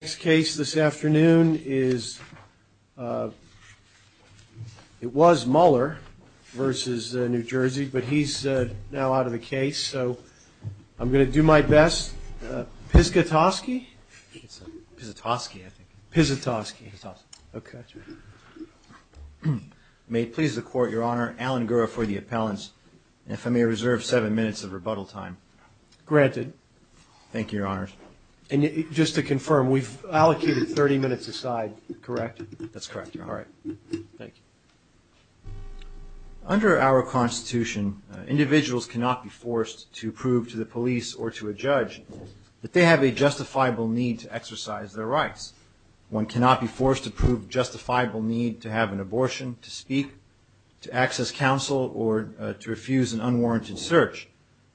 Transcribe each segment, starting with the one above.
The next case this afternoon is, it was Muller versus New Jersey, but he's now out of a case, so I'm going to do my best. Piszczatoski? Piszczatoski,I think. Piszczatoski.Piszczatoski.Okay.May it please the Court, Your Honor, Alan Gura for the appellants, and if I may reserve seven minutes of rebuttal time. Granted.Thank you, Your Honors. And just to confirm, we've allocated 30 minutes aside, correct? That's correct, Your Honor.Thank you. Under our Constitution, individuals cannot be forced to prove to the police or to a judge that they have a justifiable need to exercise their rights. One cannot be forced to prove justifiable need to have an abortion, to speak, to access counsel, or to refuse an unwarranted search.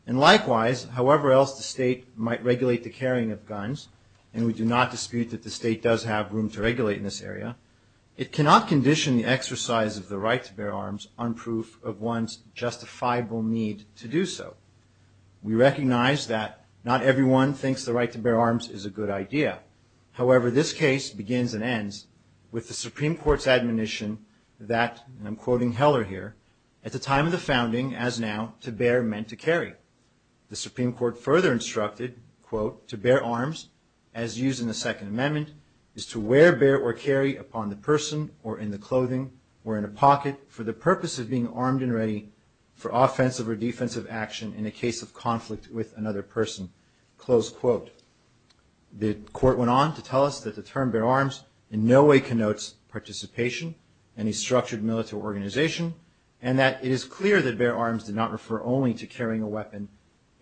And likewise, however else the state might regulate the carrying of guns, and we do not dispute that the state does have room to regulate in this area, it cannot condition the exercise of the right to bear arms on proof of one's justifiable need to do so. We recognize that not everyone thinks the right to bear arms is a good idea. However, this case begins and ends with the Supreme Court's admonition that, and I'm quoting Heller here, at the time of the founding, as now, to bear meant to carry. The Supreme Court further instructed, quote, to bear arms, as used in the Second Amendment, is to wear, bear, or carry upon the person, or in the clothing, or in a pocket, for the purpose of being armed and ready for offensive or defensive action in a case of conflict with another person. Close quote. The court went on to tell us that the term bear arms in no way connotes participation in a structured military organization, and that it is clear that bear arms did not refer only to carrying a weapon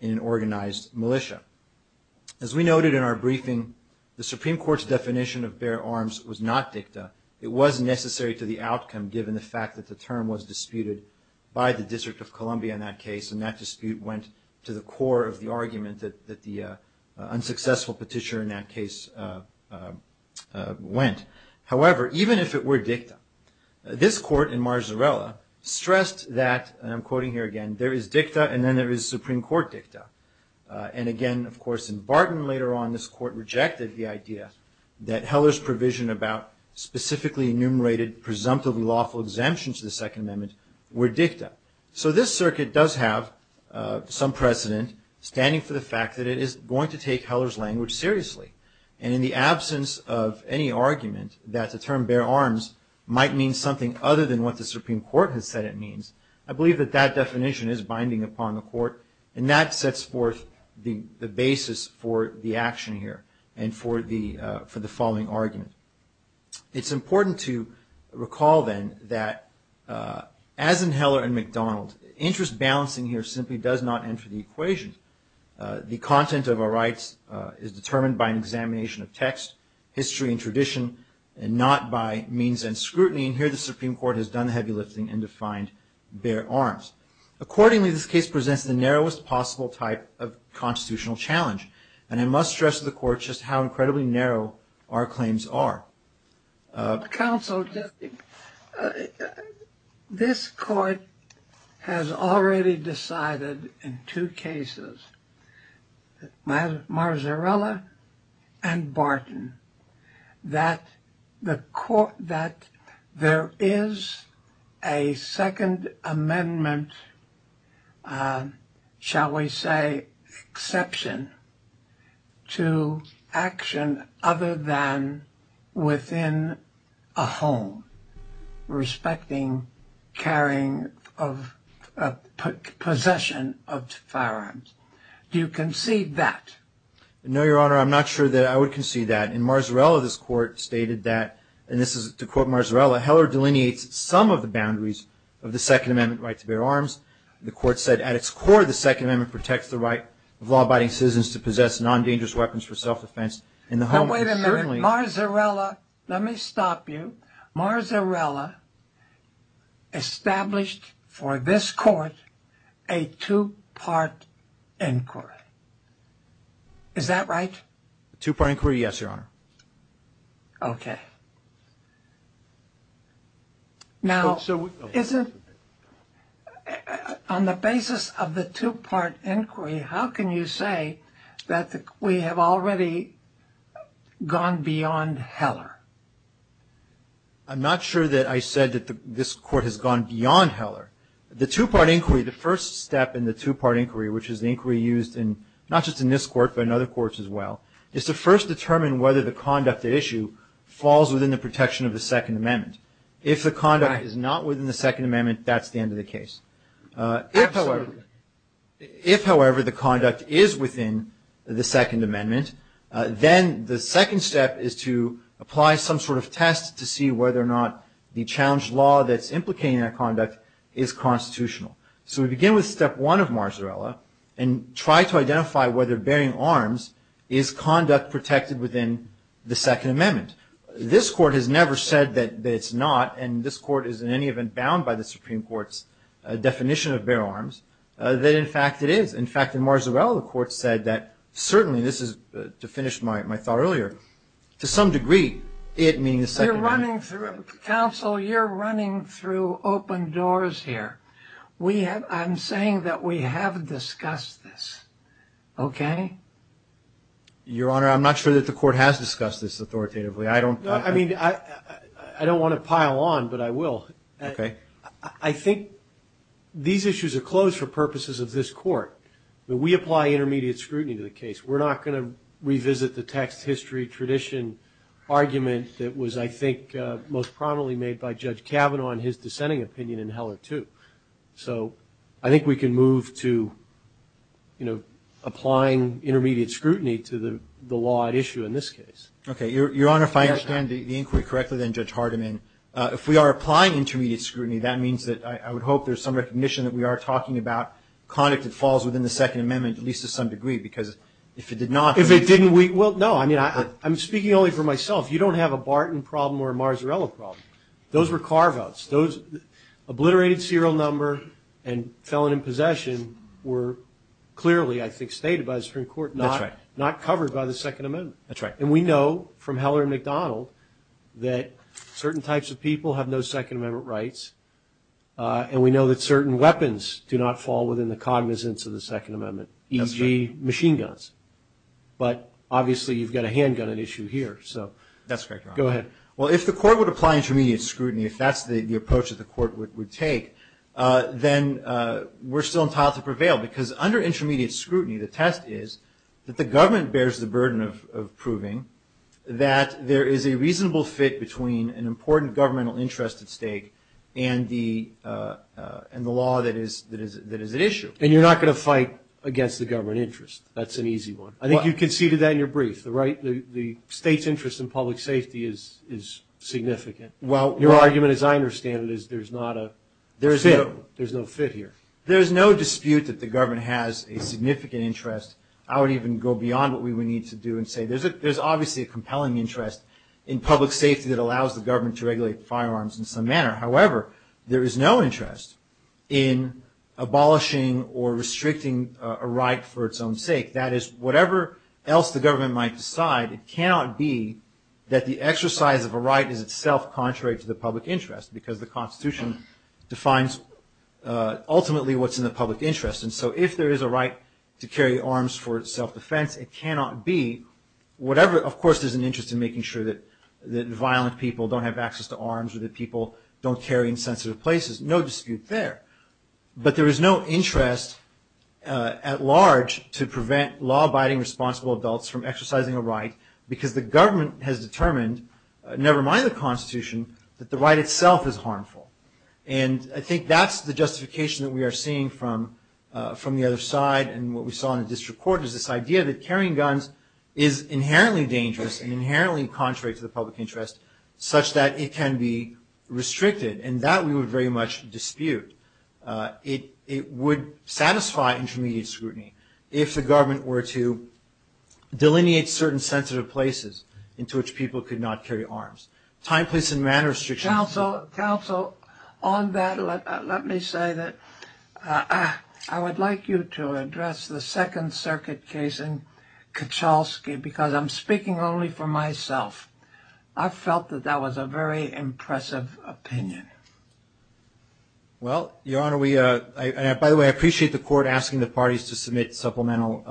in an organized militia. As we noted in our briefing, the Supreme Court's definition of bear arms was not dicta.It was necessary to the outcome, given the fact that the term was disputed by the District of Columbia in that case, and that dispute went to the core of the argument that the unsuccessful petitioner in that case went. However, even if it were dicta, this court in Marzarella stressed that, and I'm quoting here again, there is dicta, and then there is Supreme Court dicta. And again, of course, in Barton later on, this court rejected the idea that Heller's provision about specifically enumerated, presumptively lawful exemptions to the Second Amendment were dicta. So this circuit does have some precedent standing for the fact that it is going to take Heller's language seriously. And in the absence of any argument that the term bear arms might mean something other than what the Supreme Court has said it means, I believe that that definition is binding upon the court, and that sets forth the basis for the action here and for the following argument. It's important to recall, then, that as in Heller and McDonald, interest balancing here simply does not enter the equation. The content of our rights is determined by an examination of text, history, and tradition, and not by means and scrutiny. And here the Supreme Court has done the heavy lifting and defined bear arms. Accordingly, this case presents the narrowest possible type of constitutional challenge. And I must stress to the court just how incredibly narrow our claims are. Counsel, this court has already decided in two cases, Marzarella and Barton, that there is a Second Amendment, shall we say, exception to action other than within a home respecting carrying of possession of firearms. Do you concede that? No, Your Honor. I'm not sure that I would concede that. In Marzarella, this court stated that, and this is to quote Marzarella, Heller delineates some of the boundaries of the Second Amendment right to bear arms. The court said, at its core, the Second Amendment protects the right of law-abiding citizens to possess non-dangerous weapons for self-defense. Wait a minute. Marzarella, let me stop you. Marzarella established for this court a two-part inquiry. Is that right? A two-part inquiry, yes, Your Honor. Okay. Now, on the basis of the two-part inquiry, how can you say that we have already gone beyond Heller? I'm not sure that I said that this court has gone beyond Heller. The two-part inquiry, the first step in the two-part inquiry, which is the inquiry used not just in this court but in other courts as well, is to first determine whether the conduct at issue falls within the protection of the Second Amendment. If the conduct is not within the Second Amendment, that's the end of the case. If, however, the conduct is within the Second Amendment, then the second step is to apply some sort of test to see whether or not the challenged law that's implicating that conduct is constitutional. So we begin with step one of Marzarella and try to identify whether bearing arms is conduct protected within the Second Amendment. This court has never said that it's not, and this court is in any event bound by the Supreme Court's definition of bear arms, that in fact it is. In fact, in Marzarella, the court said that certainly, this is to finish my thought earlier, to some degree it means the Second Amendment. Counsel, you're running through open doors here. I'm saying that we have discussed this, okay? Your Honor, I'm not sure that the court has discussed this authoritatively. I don't want to pile on, but I will. I think these issues are closed for purposes of this court, but we apply intermediate scrutiny to the case. We're not going to revisit the text, history, tradition argument that was, I think, most prominently made by Judge Kavanaugh in his dissenting opinion in Heller 2. So I think we can move to, you know, applying intermediate scrutiny to the law at issue in this case. Okay. Your Honor, if I understand the inquiry correctly, then, Judge Hardiman, if we are applying intermediate scrutiny, that means that I would hope there's some recognition that we are talking about conduct that falls within the Second Amendment, at least to some degree, because if it did not... If it didn't, well, no, I mean, I'm speaking only for myself. You don't have a Barton problem or a Marzarella problem. Those were carve-outs. Those obliterated serial number and felon in possession were clearly, I think, stated by the Supreme Court, not covered by the Second Amendment. That's right. And we know from Heller and McDonald that certain types of people have no Second Amendment rights, and we know that certain weapons do not fall within the cognizance of the Second Amendment, e.g., machine guns. But, obviously, you've got a handgun at issue here, so... That's correct, Your Honor. Go ahead. Well, if the court would apply intermediate scrutiny, if that's the approach that the court would take, then we're still entitled to prevail because under intermediate scrutiny, the test is that the government bears the burden of proving that there is a reasonable fit between an important governmental interest at stake and the law that is at issue. Then you're not going to fight against the government interest. That's an easy one. I think you conceded that in your brief. The state's interest in public safety is significant. Your argument, as I understand it, is there's not a fit here. There's no dispute that the government has a significant interest. I would even go beyond what we would need to do and say there's obviously a compelling interest in public safety that allows the government to regulate firearms in some manner. However, there is no interest in abolishing or restricting a right for its own sake. That is, whatever else the government might decide, it cannot be that the exercise of a right is itself contrary to the public interest because the Constitution defines ultimately what's in the public interest. And so if there is a right to carry arms for self-defense, it cannot be whatever. Of course, there's an interest in making sure that violent people don't have access to arms or that people don't carry in sensitive places. No dispute there. But there is no interest at large to prevent law-abiding, responsible adults from exercising a right because the government has determined, never mind the Constitution, that the right itself is harmful. And I think that's the justification that we are seeing from the other side. And what we saw in the district court is this idea that carrying guns is inherently dangerous and inherently contrary to the public interest such that it can be restricted. And that we would very much dispute. It would satisfy intermediate scrutiny if the government were to delineate certain sensitive places into which people could not carry arms. Time, place, and manner restrictions. Counsel, on that, let me say that I would like you to address the Second Circuit case in Kachalski because I'm speaking only for myself. I felt that that was a very impressive opinion. Well, Your Honor, by the way, I appreciate the court asking the parties to submit supplemental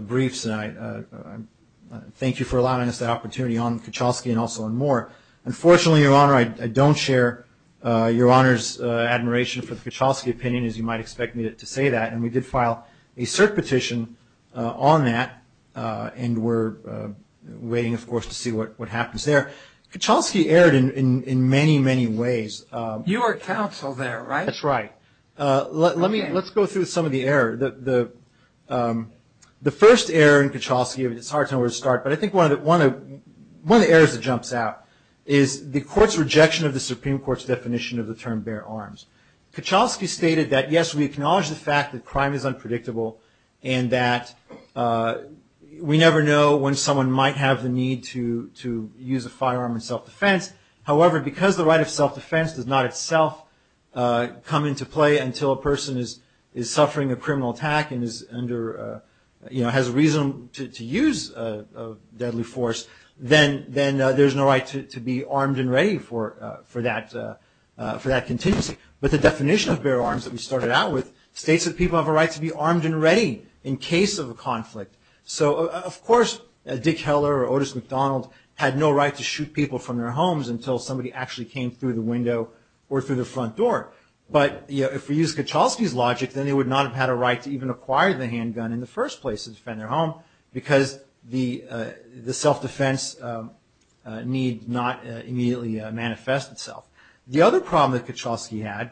briefs tonight. Thank you for allowing us the opportunity on Kachalski and also on Moore. Unfortunately, Your Honor, I don't share Your Honor's admiration for the Kachalski opinion, as you might expect me to say that. And we did file a cert petition on that and we're waiting, of course, to see what happens there. Kachalski erred in many, many ways. You were counsel there, right? That's right. Let's go through some of the error. The first error in Kachalski, it's hard to know where to start, but I think one of the errors that jumps out is the court's rejection of the Supreme Court's definition of the term bare arms. Kachalski stated that, yes, we acknowledge the fact that crime is unpredictable and that we never know when someone might have the need to use a firearm in self-defense. However, because the right of self-defense does not itself come into play until a person is suffering a criminal attack and has reason to use a deadly force, then there's no right to be armed and ready for that contingency. But the definition of bare arms that we started out with states that people have a right to be armed and ready in case of a conflict. So, of course, Dick Heller or Otis McDonald had no right to shoot people from their homes until somebody actually came through the window or through the front door. But if we use Kachalski's logic, then they would not have had a right to even acquire the handgun in the first place to defend their home because the self-defense need not immediately manifest itself. The other problem that Kachalski had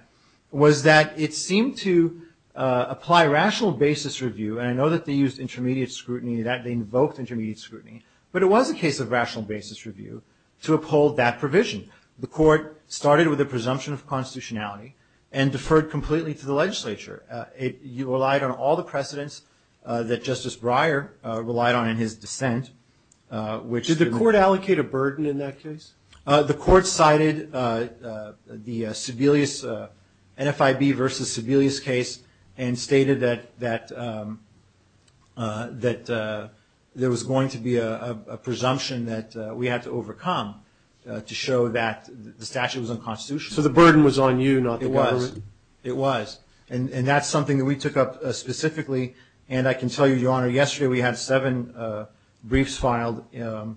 was that it seemed to apply rational basis review, and I know that they used intermediate scrutiny in that. They invoked intermediate scrutiny. But it was a case of rational basis review to uphold that provision. The court started with a presumption of constitutionality and deferred completely to the legislature. You relied on all the precedents that Justice Breyer relied on in his dissent. Did the court allocate a burden in that case? The court cited the NFIB v. Sebelius case and stated that there was going to be a presumption that we had to overcome to show that the statute was unconstitutional. So the burden was on you, not the government? It was. And that's something that we took up specifically. And I can tell you, Your Honor, yesterday we had seven briefs filed in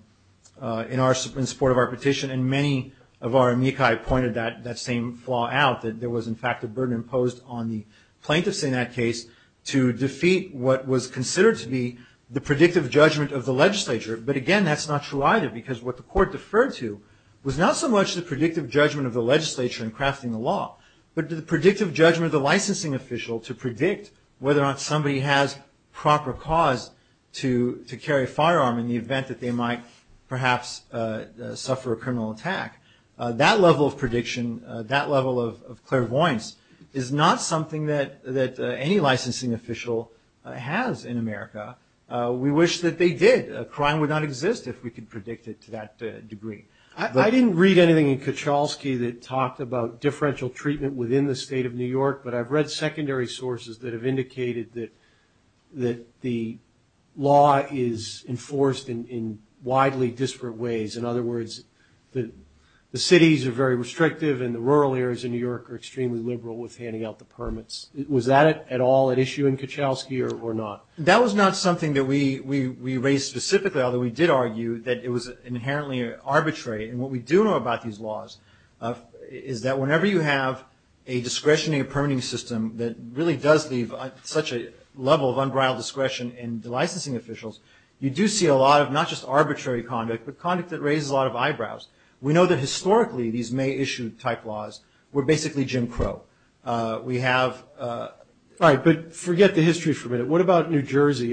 support of our petition, and many of our amici pointed that same flaw out, that there was, in fact, a burden imposed on the plaintiffs in that case to defeat what was considered to be the predictive judgment of the legislature. But, again, that's not true either because what the court deferred to was not so much the predictive judgment of the legislature in crafting the law, but the predictive judgment of the licensing official to predict whether or not somebody has proper cause to carry a firearm in the event that they might perhaps suffer a criminal attack. That level of prediction, that level of clairvoyance, is not something that any licensing official has in America. We wish that they did. Crime would not exist if we could predict it to that degree. I didn't read anything in Kuchelski that talked about differential treatment within the state of New York, but I've read secondary sources that have indicated that the law is enforced in widely disparate ways. In other words, the cities are very restrictive, and the rural areas in New York are extremely liberal with handing out the permits. Was that at all an issue in Kuchelski or not? That was not something that we raised specifically, although we did argue that it was inherently arbitrary. And what we do know about these laws is that whenever you have a discretionary permitting system that really does leave such a level of unbridled discretion in the licensing officials, you do see a lot of not just arbitrary conduct, but conduct that raises a lot of eyebrows. We know that historically these May issue type laws were basically Jim Crow. We have – right, but forget the history for a minute. What about New Jersey?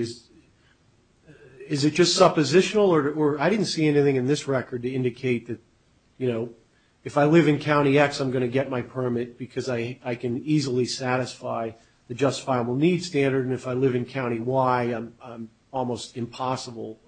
Is it just suppositional or – I didn't see anything in this record to indicate that, you know, if I live in County X, I'm going to get my permit because I can easily satisfy the justifiable needs standard, and if I live in County Y, I'm almost impossible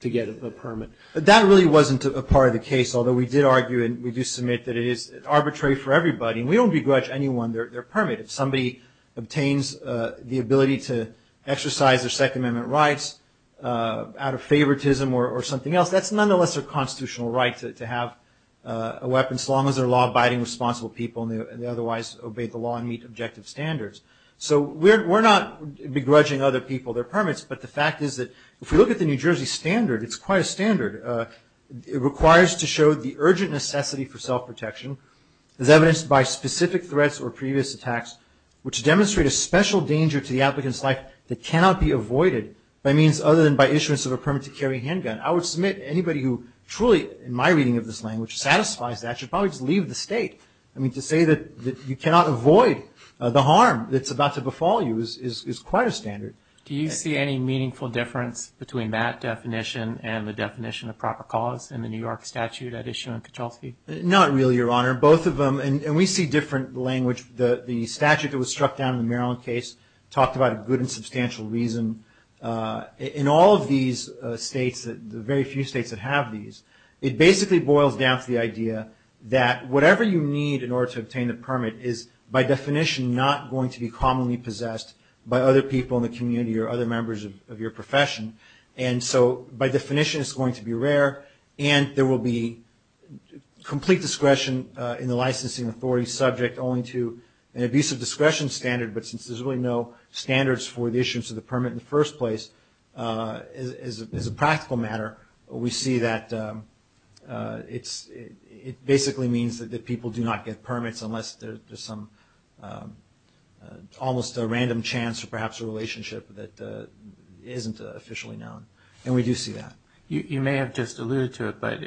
to get a permit. But that really wasn't a part of the case, although we did argue and we do submit that it is arbitrary for everybody, and we don't begrudge anyone their permit. If somebody obtains the ability to exercise their Second Amendment rights out of favoritism or something else, that's nonetheless a constitutional right to have a weapon so long as they're law-abiding, responsible people and they otherwise obey the law and meet objective standards. So we're not begrudging other people their permits, but the fact is that if you look at the New Jersey standard, it's quite a standard. It requires to show the urgent necessity for self-protection as evidenced by specific threats or previous attacks which demonstrate a special danger to the applicant's life that cannot be avoided by means other than by issuance of a permit-to-carry handgun. I would submit anybody who truly, in my reading of this language, satisfies that should probably just leave the state. I mean, to say that you cannot avoid the harm that's about to befall you is quite a standard. Do you see any meaningful difference between that definition and the definition of proper cause in the New York statute that is shown in Petrovsky? Not really, Your Honor. Both of them, and we see different language. The statute that was struck down in the Maryland case talked about a good and substantial reason. In all of these states, the very few states that have these, it basically boils down to the idea that whatever you need in order to obtain a permit is by definition not going to be commonly possessed by other people in the community or other members of your profession. And so, by definition, it's going to be rare, and there will be complete discretion in the licensing authority subject only to an abusive discretion standard, but since there's really no standards for the issuance of the permit in the first place, as a practical matter, we see that it basically means that people do not get permits unless there's some almost a random chance or perhaps a relationship that isn't officially known, and we do see that. You may have just alluded to it, but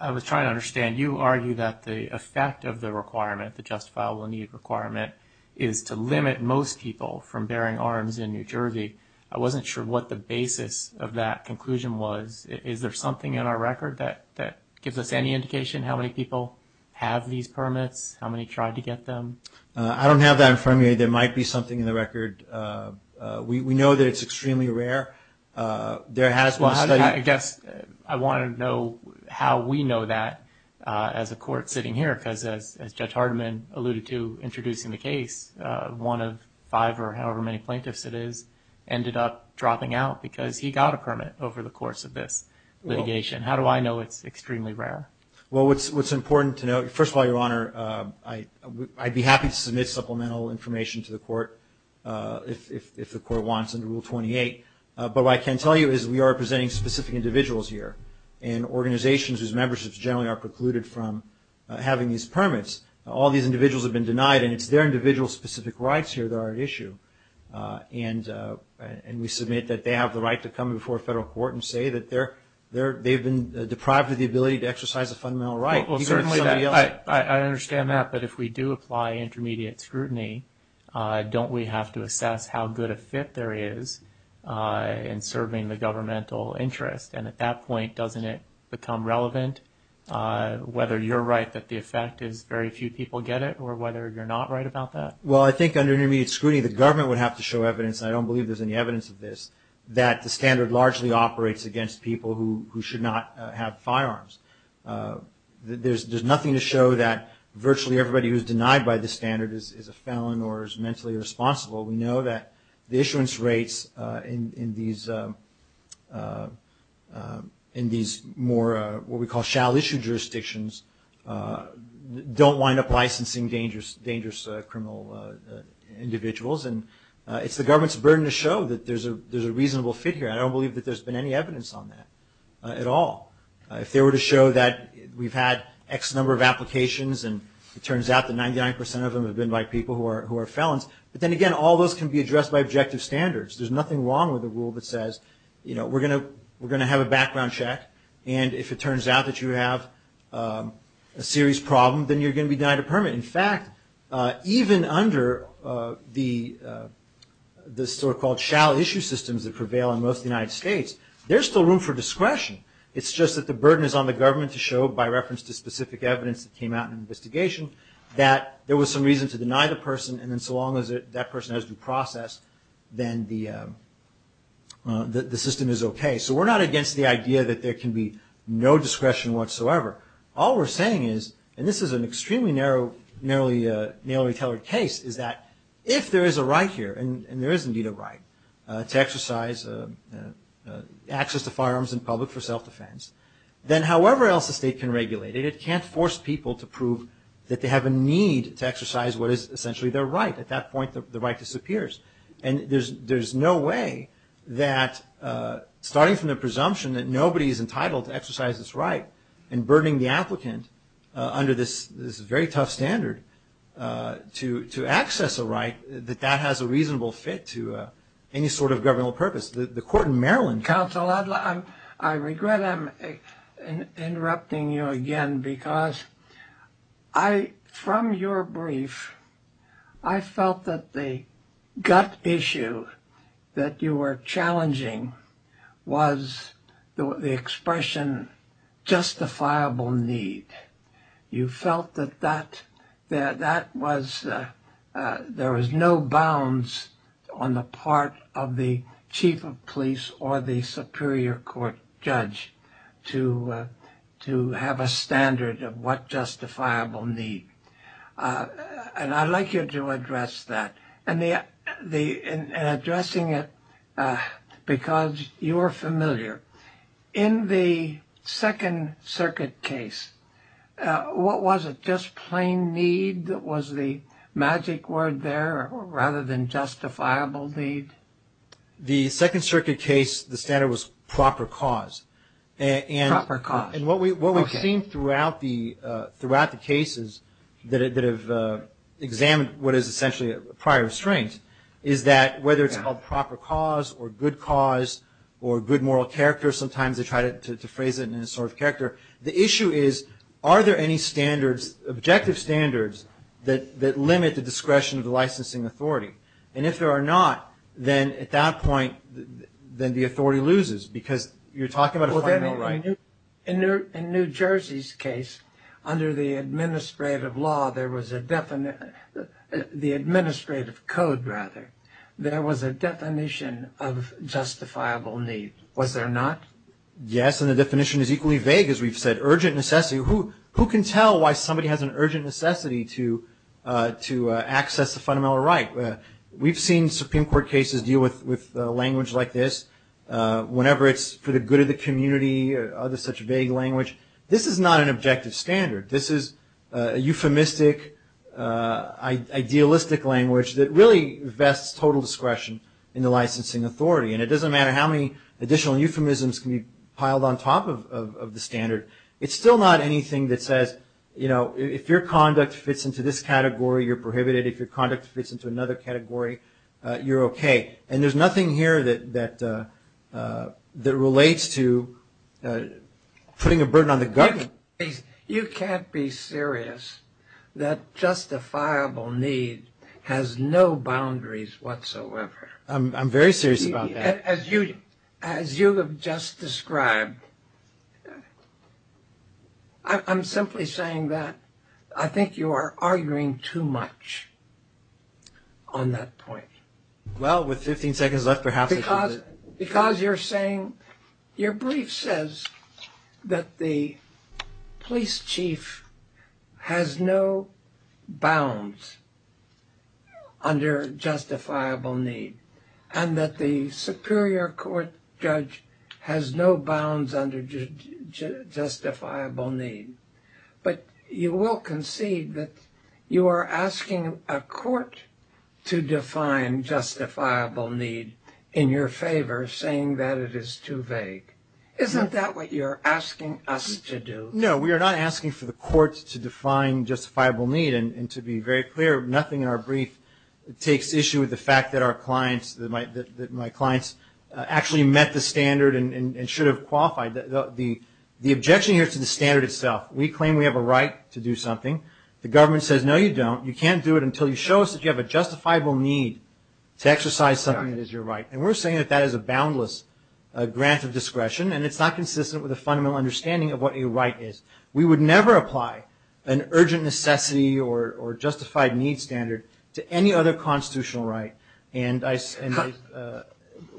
I was trying to understand. You argue that the effect of the requirement, the justifiable need requirement, is to limit most people from bearing arms in New Jersey. I wasn't sure what the basis of that conclusion was. Is there something in our record that gives us any indication how many people have these permits, how many tried to get them? I don't have that in front of me. There might be something in the record. We know that it's extremely rare. There has been studies. Well, I guess I want to know how we know that as a court sitting here, because as Judge Hardiman alluded to introducing the case, one of five or however many plaintiffs it is ended up dropping out because he got a permit over the course of this litigation. How do I know it's extremely rare? Well, what's important to note, first of all, Your Honor, I'd be happy to submit supplemental information to the court if the court wants under Rule 28. But what I can tell you is we are presenting specific individuals here and organizations whose memberships generally are precluded from having these permits. All these individuals have been denied, and it's their individual specific rights here that are at issue. And we submit that they have the right to come before a federal court and say that they've been deprived of the ability to exercise a fundamental right. Well, certainly, I understand that. But if we do apply intermediate scrutiny, don't we have to assess how good a fit there is in serving the governmental interest? And at that point, doesn't it become relevant whether you're right that the effect is very few people get it or whether you're not right about that? Well, I think under intermediate scrutiny, the government would have to show evidence, and I don't believe there's any evidence of this, that the standard largely operates against people who should not have firearms. There's nothing to show that virtually everybody who's denied by the standard is a felon or is mentally irresponsible. We know that the issuance rates in these more what we call shall-issue jurisdictions don't wind up licensing dangerous criminal individuals. And it's the government's burden to show that there's a reasonable fit here. I don't believe that there's been any evidence on that at all. If they were to show that we've had X number of applications and it turns out that 99 percent of them have been by people who are felons, but then again, all those can be addressed by objective standards. There's nothing wrong with a rule that says, you know, we're going to have a background check, and if it turns out that you have a serious problem, then you're going to be denied a permit. In fact, even under the so-called shall-issue systems that prevail in most of the United States, there's still room for discretion. It's just that the burden is on the government to show, by reference to specific evidence that came out in an investigation, that there was some reason to deny the person, and then so long as that person has been processed, then the system is okay. So we're not against the idea that there can be no discretion whatsoever. All we're saying is, and this is an extremely narrow case, is that if there is a right here, and there is indeed a right, to exercise access to firearms in public for self-defense, then however else the state can regulate it, it can't force people to prove that they have a need to exercise what is essentially their right. At that point, the right disappears. And there's no way that, starting from the presumption that nobody is entitled to exercise this right and burdening the applicant under this very tough standard to access a right, that that has a reasonable fit to any sort of governmental purpose. The court in Maryland counseled that. I regret interrupting you again, because from your brief, I felt that the gut issue that you were challenging was the expression justifiable need. You felt that there was no bounds on the part of the chief of police or the superior court judge to have a standard of what justifiable need. And I'd like you to address that, and addressing it because you are familiar. In the Second Circuit case, what was it, just plain need? Was the magic word there rather than justifiable need? The Second Circuit case, the standard was proper cause. Proper cause. And what we've seen throughout the cases that have examined what is essentially prior restraints is that whether to help proper cause or good cause or good moral character, sometimes they try to phrase it in a sort of character. The issue is, are there any standards, objective standards, that limit the discretion of the licensing authority? And if there are not, then at that point, then the authority loses, because you're talking about a fundamental right. In New Jersey's case, under the administrative law, there was a definition, the administrative code rather, there was a definition of justifiable need. Was there not? Yes, and the definition is equally vague, as we've said. Urgent necessity. Who can tell why somebody has an urgent necessity to access a fundamental right? We've seen Supreme Court cases deal with language like this. Whenever it's for the good of the community or such a vague language. This is not an objective standard. This is a euphemistic, idealistic language that really vests total discretion in the licensing authority. And it doesn't matter how many additional euphemisms can be piled on top of the standard. It's still not anything that says, you know, if your conduct fits into this category, you're prohibited. If your conduct fits into another category, you're okay. And there's nothing here that relates to putting a burden on the government. You can't be serious that justifiable need has no boundaries whatsoever. I'm very serious about that. As you have just described, I'm simply saying that I think you are arguing too much on that point. Well, with 15 seconds left, perhaps I should... The superior court judge has no bounds under justifiable need. But you will concede that you are asking a court to define justifiable need in your favor, saying that it is too vague. Isn't that what you're asking us to do? No, we are not asking for the courts to define justifiable need. And to be very clear, nothing in our brief takes issue with the fact that our clients, that my clients actually met the standard and should have qualified. The objection here is to the standard itself. We claim we have a right to do something. The government says, no, you don't. You can't do it until you show us that you have a justifiable need to exercise something that is your right. And we're saying that that is a boundless grant of discretion. And it's not consistent with a fundamental understanding of what a right is. We would never apply an urgent necessity or justified need standard to any other constitutional right. And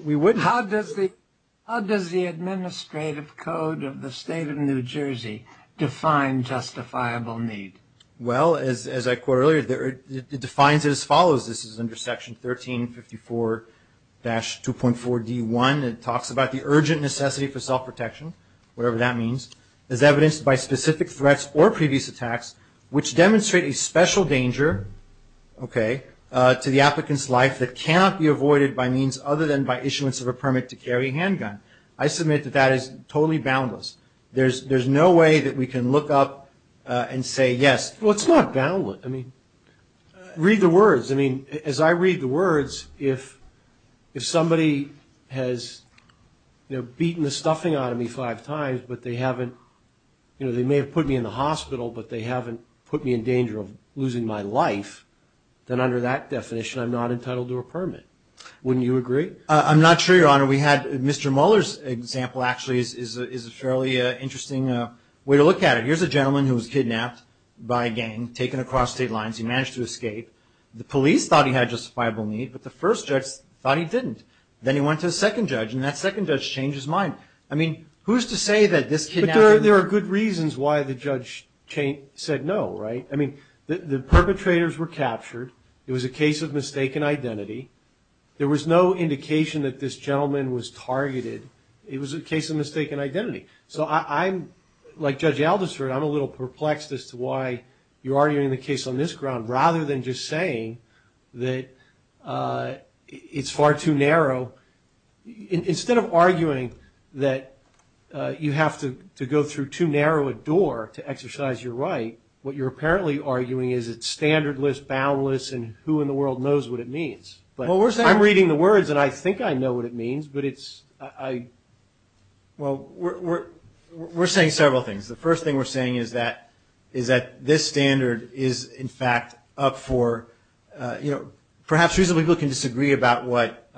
we wouldn't... How does the administrative code of the state of New Jersey define justifiable need? Well, as I quoted earlier, it defines it as follows. This is under Section 1354-2.4D1. It talks about the urgent necessity for self-protection, whatever that means. It's evidenced by specific threats or previous attacks which demonstrate a special danger, okay, to the applicant's life that cannot be avoided by means other than by issuance of a permit to carry a handgun. I submit that that is totally boundless. There's no way that we can look up and say yes. Well, it's not boundless. I mean, read the words. I mean, as I read the words, if somebody has beaten the stuffing out of me five times, but they haven't, you know, they may have put me in the hospital, but they haven't put me in danger of losing my life, then under that definition I'm not entitled to a permit. Wouldn't you agree? I'm not sure, Your Honor. We had Mr. Mueller's example actually is a fairly interesting way to look at it. Here's a gentleman who was kidnapped by a gang, taken across state lines. He managed to escape. The police thought he had justifiable need, but the first judge thought he didn't. Then he went to the second judge, and that second judge changed his mind. I mean, who's to say that this kidnapper... But there are good reasons why the judge said no, right? I mean, the perpetrators were captured. It was a case of mistaken identity. There was no indication that this gentleman was targeted. It was a case of mistaken identity. So I'm, like Judge Aldister, I'm a little perplexed as to why you're arguing the case on this ground rather than just saying that it's far too narrow. Instead of arguing that you have to go through too narrow a door to exercise your right, what you're apparently arguing is it's standardless, boundless, and who in the world knows what it means. I'm reading the words, and I think I know what it means, but it's... Well, we're saying several things. The first thing we're saying is that this standard is, in fact, up for, you know, perhaps reasonably people can disagree about what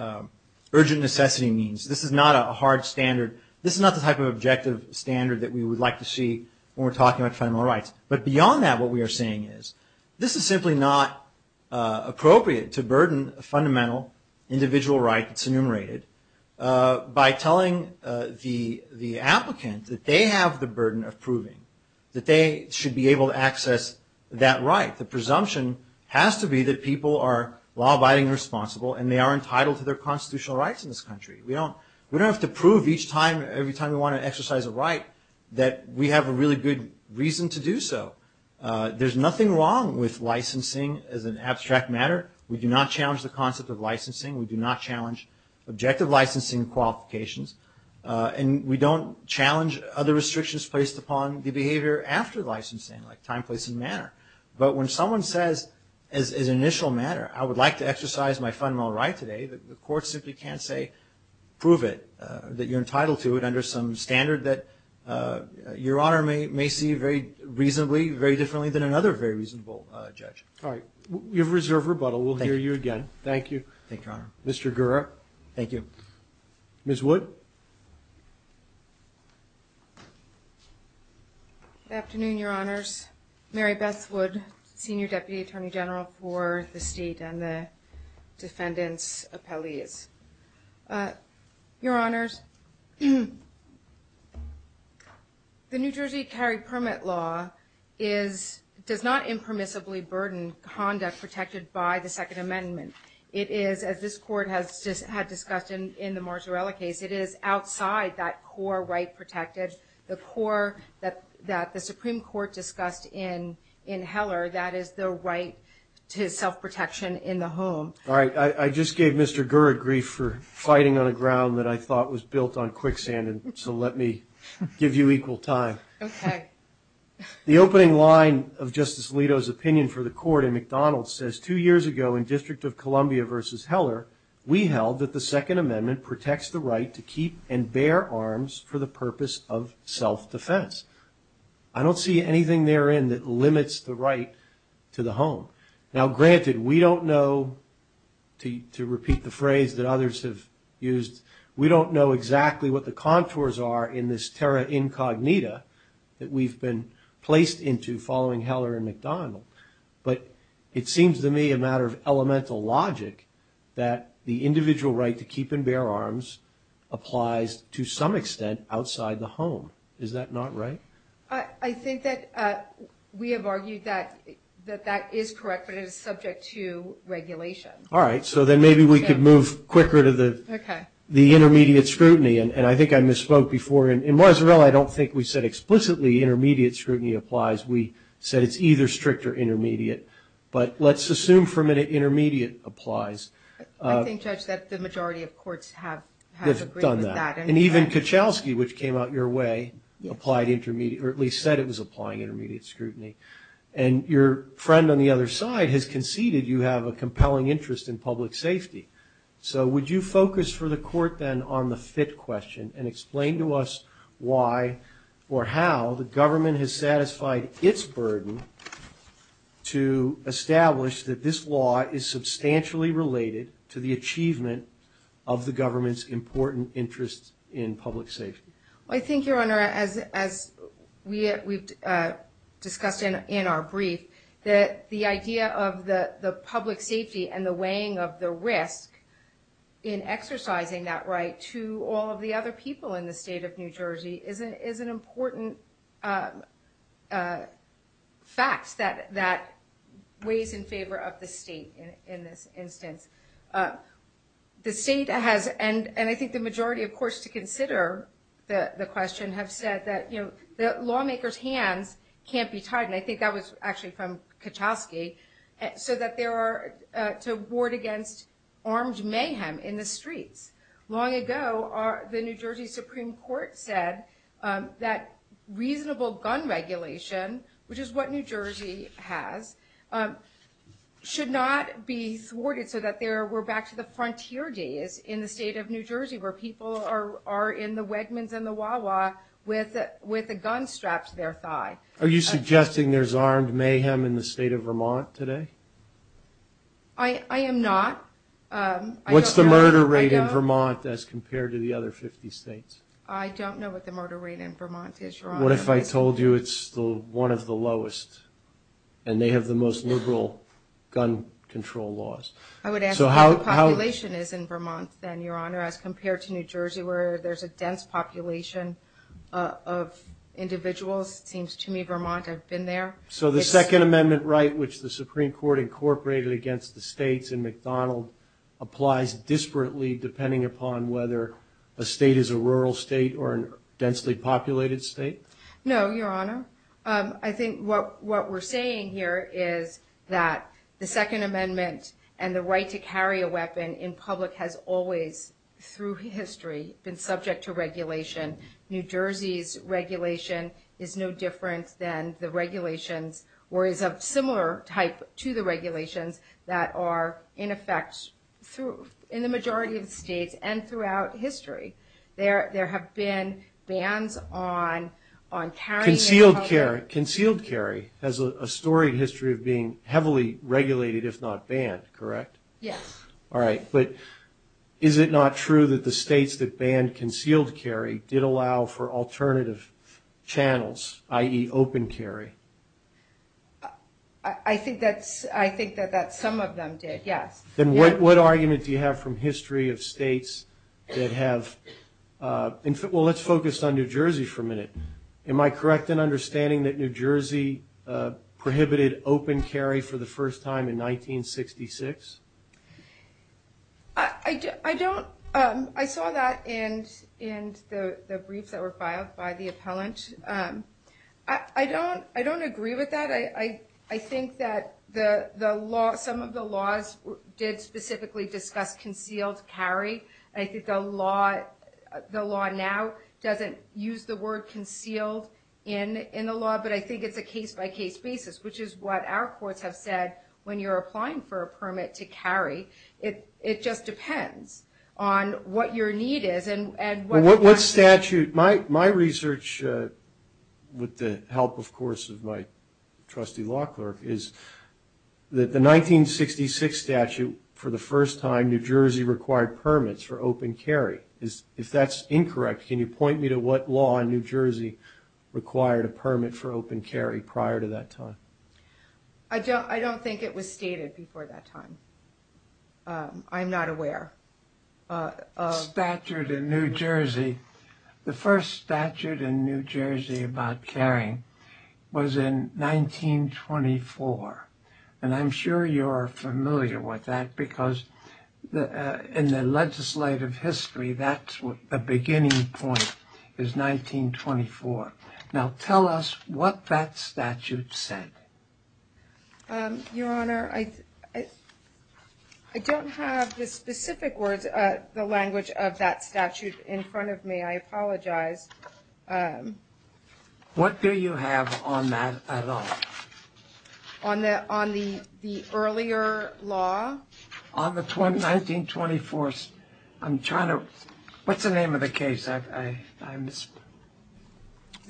urgent necessity means. This is not a hard standard. This is not the type of objective standard that we would like to see when we're talking about fundamental rights. But beyond that, what we are saying is this is simply not appropriate to burden a fundamental individual right that's enumerated by telling the applicant that they have the burden of proving that they should be able to access that right. The presumption has to be that people are law-abiding and responsible and they are entitled to their constitutional rights in this country. We don't have to prove each time, every time we want to exercise a right, that we have a really good reason to do so. There's nothing wrong with licensing as an abstract matter. We do not challenge the concept of licensing. We do not challenge objective licensing qualifications. And we don't challenge other restrictions placed upon the behavior after licensing, like time, place, and manner. But when someone says, as an initial matter, I would like to exercise my fundamental right today, the court simply can't say prove it, that you're entitled to it under some standard that Your Honor may see very reasonably, very differently than another very reasonable judge. All right. Your reserve rebuttal. We'll hear you again. Thank you. Thank you, Your Honor. Mr. Guerra. Thank you. Ms. Wood. Good afternoon, Your Honors. Mary Beth Wood, Senior Deputy Attorney General for the State and the Descendants Appellate. Your Honors, The New Jersey Carry Permit Law does not impermissibly burden conduct protected by the Second Amendment. It is, as this Court has discussed in the Marzarella case, it is outside that core right protected, the core that the Supreme Court discussed in Heller, that is the right to self-protection in the home. All right. I just gave Mr. Guerra grief for fighting on a ground that I thought was built on quicksand, and so let me give you equal time. Okay. The opening line of Justice Alito's opinion for the Court in McDonald's says, two years ago in District of Columbia versus Heller, we held that the Second Amendment protects the right to keep and bear arms for the purpose of self-defense. I don't see anything therein that limits the right to the home. Now, granted, we don't know, to repeat the phrase that others have used, we don't know exactly what the contours are in this terra incognita that we've been placed into following Heller and McDonald, but it seems to me a matter of elemental logic that the individual right to keep and bear arms applies to some extent outside the home. Is that not right? I think that we have argued that that is correct, but it is subject to regulation. All right. So then maybe we could move quicker to the intermediate scrutiny, and I think I misspoke before. In Marzipan, I don't think we said explicitly intermediate scrutiny applies. We said it's either strict or intermediate, but let's assume for a minute intermediate applies. I think, Judge, that the majority of courts have agreed with that. And even Kuchelski, which came out your way, said it was applying intermediate scrutiny. And your friend on the other side has conceded you have a compelling interest in public safety. So would you focus for the court then on the fifth question and explain to us why or how the government has satisfied its burden to establish that this law is substantially related to the achievement of the government's important interest in public safety? I think, Your Honor, as we've discussed in our brief, that the idea of the public safety and the weighing of the risk in exercising that right to all of the other people in the state of New Jersey is an important fact that weighs in favor of the state in this instance. The state has, and I think the majority of courts to consider the question, have said that the lawmaker's hand can't be tied, and I think that was actually from Kuchelski, to ward against armed mayhem in the streets. Long ago, the New Jersey Supreme Court said that reasonable gun regulation, which is what New Jersey has, should not be thwarted so that we're back to the frontier days in the state of New Jersey where people are in the Wegmans and the Wah-Wah with a gun strapped to their thigh. Are you suggesting there's armed mayhem in the state of Vermont today? I am not. What's the murder rate in Vermont as compared to the other 50 states? I don't know what the murder rate in Vermont is, Your Honor. What if I told you it's one of the lowest and they have the most liberal gun control laws? I would ask what the population is in Vermont then, Your Honor, as compared to New Jersey where there's a dense population of individuals. It seems to me Vermont has been there. So the Second Amendment right, which the Supreme Court incorporated against the states in McDonald, applies disparately depending upon whether a state is a rural state or a densely populated state? No, Your Honor. I think what we're saying here is that the Second Amendment and the right to carry a weapon in public has always, through history, been subject to regulation. New Jersey's regulation is no different than the regulations or is of similar type to the regulations that are in effect in the majority of states and throughout history. There have been bans on carrying a weapon. Concealed carry has a storied history of being heavily regulated, if not banned, correct? Yes. All right. But is it not true that the states that banned concealed carry did allow for alternative channels, i.e. open carry? I think that some of them did, yes. Then what argument do you have from history of states that have – well, let's focus on New Jersey for a minute. Am I correct in understanding that New Jersey prohibited open carry for the first time in 1966? I don't – I saw that in the briefs that were filed by the appellant. I don't agree with that. I think that the law – some of the laws did specifically discuss concealed carry. I think the law now doesn't use the word concealed in the law, but I think it's a case-by-case basis, which is what our courts have said when you're applying for a permit to carry. It just depends on what your need is and what – Well, what statute – my research, with the help, of course, of my trustee law clerk, is that the 1966 statute, for the first time, New Jersey required permits for open carry. If that's incorrect, can you point me to what law in New Jersey required a permit for open carry prior to that time? I don't think it was stated before that time. I'm not aware. A statute in New Jersey – the first statute in New Jersey about carrying was in 1924, and I'm sure you're familiar with that because in the legislative history, that's a beginning point, is 1924. Now, tell us what that statute said. Your Honor, I don't have the specific words, the language of that statute in front of me. I apologize. What do you have on that at all? On the earlier law? On the 1924 – I'm trying to – what's the name of the case? Sicardy?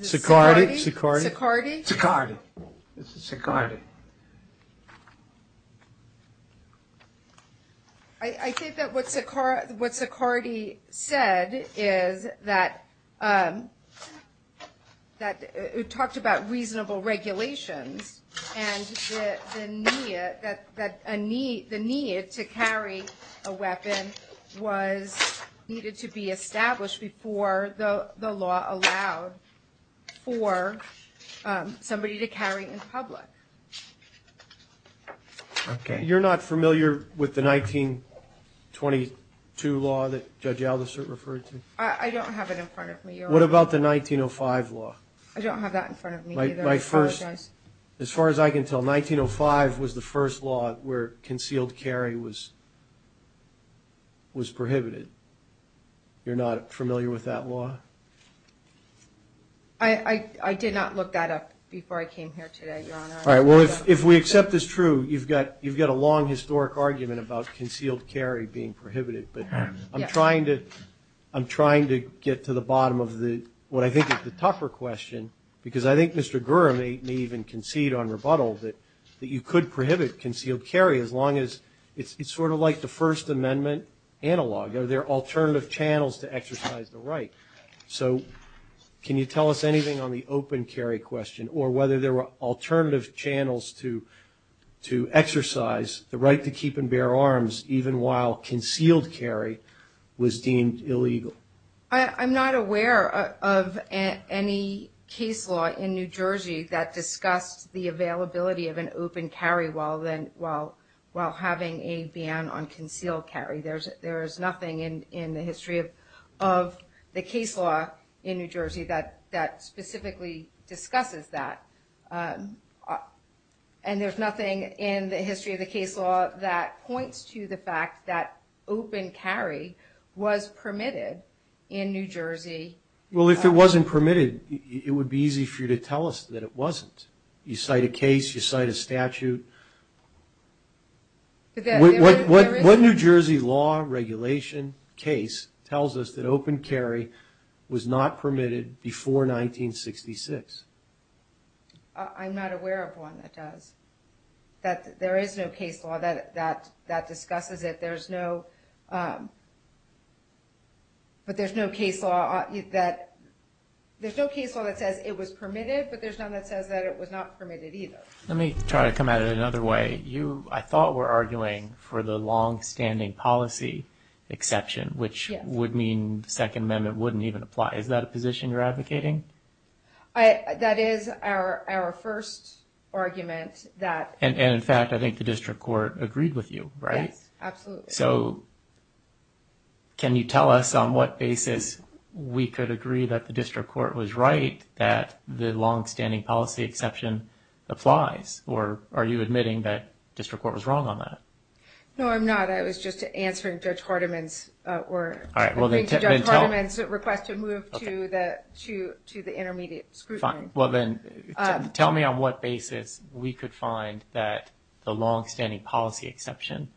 Sicardy. It's Sicardy. I think that what Sicardy said is that – it talked about reasonable regulation, and the need to carry a weapon was needed to be established before the law allowed for somebody to carry in public. Okay. You're not familiar with the 1922 law that Judge Aldister referred to? I don't have it in front of me, Your Honor. What about the 1905 law? I don't have that in front of me either. As far as I can tell, 1905 was the first law where concealed carry was prohibited. You're not familiar with that law? I did not look that up before I came here today, Your Honor. All right. Well, if we accept this true, you've got a long historic argument about concealed carry being prohibited. But I'm trying to get to the bottom of what I think is the tougher question, because I think Mr. Gurra may even concede on rebuttal that you could prohibit concealed carry as long as – it's sort of like the First Amendment analog. Are there alternative channels to exercise the right? So can you tell us anything on the open carry question, or whether there were alternative channels to exercise the right to keep and bear arms even while concealed carry was deemed illegal? I'm not aware of any case law in New Jersey that discussed the availability of an open carry while having a ban on concealed carry. There is nothing in the history of the case law in New Jersey that specifically discusses that. And there's nothing in the history of the case law that points to the fact that open carry was permitted in New Jersey. Well, if it wasn't permitted, it would be easy for you to tell us that it wasn't. You cite a case, you cite a statute. What New Jersey law, regulation, case tells us that open carry was not permitted before 1966? I'm not aware of one that does. There is no case law that discusses it. There's no – but there's no case law that says it was permitted, but there's none that says that it was not permitted either. Let me try to come at it another way. I thought we're arguing for the long-standing policy exception, which would mean the Second Amendment wouldn't even apply. Is that a position you're advocating? That is our first argument that – And in fact, I think the district court agreed with you, right? Absolutely. So, can you tell us on what basis we could agree that the district court was right that the long-standing policy exception applies? Or are you admitting that district court was wrong on that? No, I'm not. I was just answering Judge Hardiman's – All right. Judge Hardiman's request to move to the intermediate scrutiny. Well, then tell me on what basis we could find that the long-standing policy exception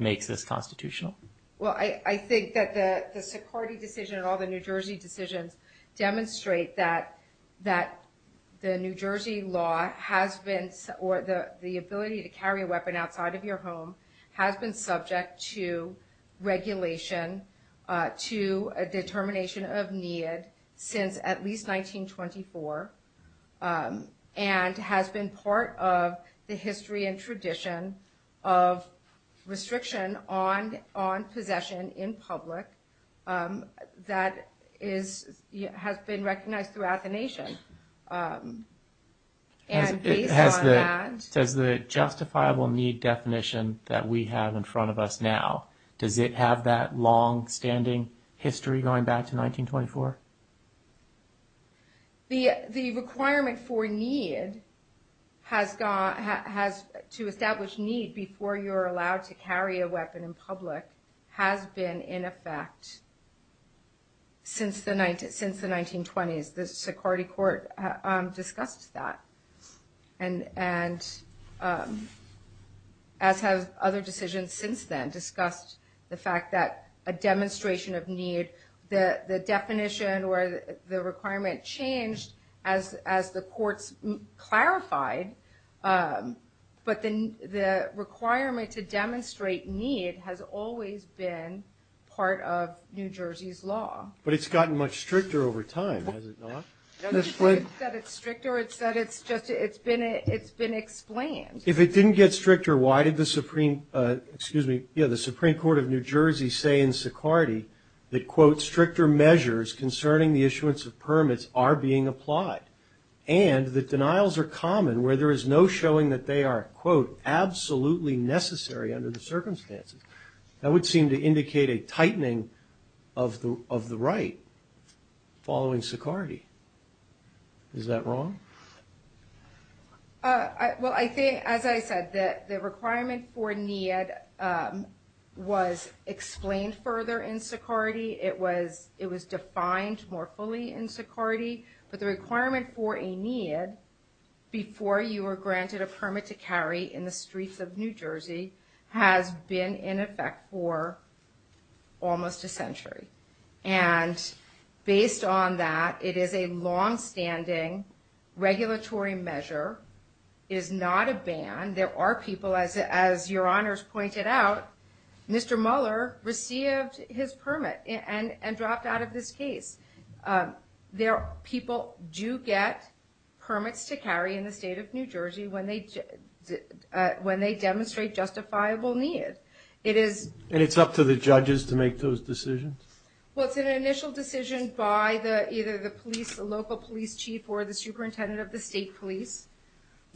makes this constitutional. Well, I think that the Sephardi decision and all the New Jersey decisions demonstrate that the New Jersey law has been – or the ability to carry a weapon outside of your home has been subject to regulation, to a determination of need since at least 1924, and has been part of the history and tradition of restriction on possession in public that has been recognized throughout the nation. And based on that – Does the justifiable need definition that we have in front of us now, does it have that long-standing history going back to 1924? The requirement for need has – to establish need before you're allowed to carry a weapon in public has been in effect since the 1920s. The Sephardi court discussed that. And as have other decisions since then, discussed the fact that a demonstration of need, the definition or the requirement changed as the courts clarified. But the requirement to demonstrate need has always been part of New Jersey's law. But it's gotten much stricter over time, has it not? No, it's not that it's stricter. It's that it's been explained. If it didn't get stricter, why did the Supreme – that, quote, stricter measures concerning the issuance of permits are being applied, and that denials are common where there is no showing that they are, quote, absolutely necessary under the circumstances? That would seem to indicate a tightening of the right following Security. Is that wrong? Well, I think, as I said, the requirement for need was explained further in Security. It was defined more fully in Security. But the requirement for a need before you were granted a permit to carry in the streets of New Jersey has been in effect for almost a century. And based on that, it is a longstanding regulatory measure. It is not a ban. There are people, as Your Honors pointed out, Mr. Mueller received his permit and dropped out of this case. People do get permits to carry in the state of New Jersey when they demonstrate justifiable need. And it's up to the judges to make those decisions? Well, it's an initial decision by either the police, the local police chief or the superintendent of the state police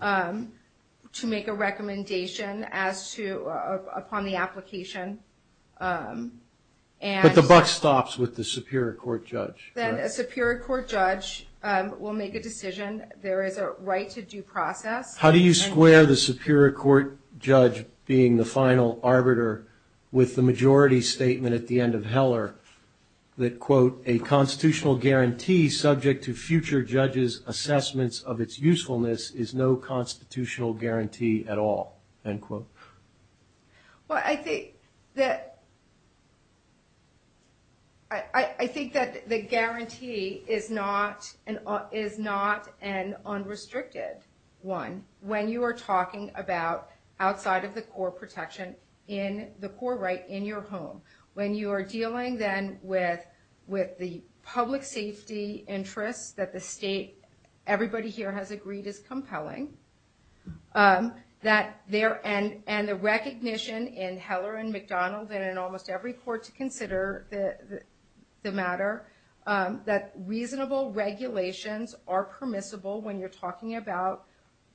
to make a recommendation as to – upon the application. But the buck stops with the superior court judge. Then a superior court judge will make a decision. There is a right to due process. How do you square the superior court judge being the final arbiter with the majority statement at the end of Heller that, quote, a constitutional guarantee subject to future judges' assessments of its usefulness is no constitutional guarantee at all, end quote? Well, I think that the guarantee is not an unrestricted one. When you are talking about outside of the core protection in the core right in your home, when you are dealing then with the public safety interest that the state, everybody here has agreed is compelling, and the recognition in Heller and McDonald's and in almost every court to consider the matter, that reasonable regulations are permissible when you're talking about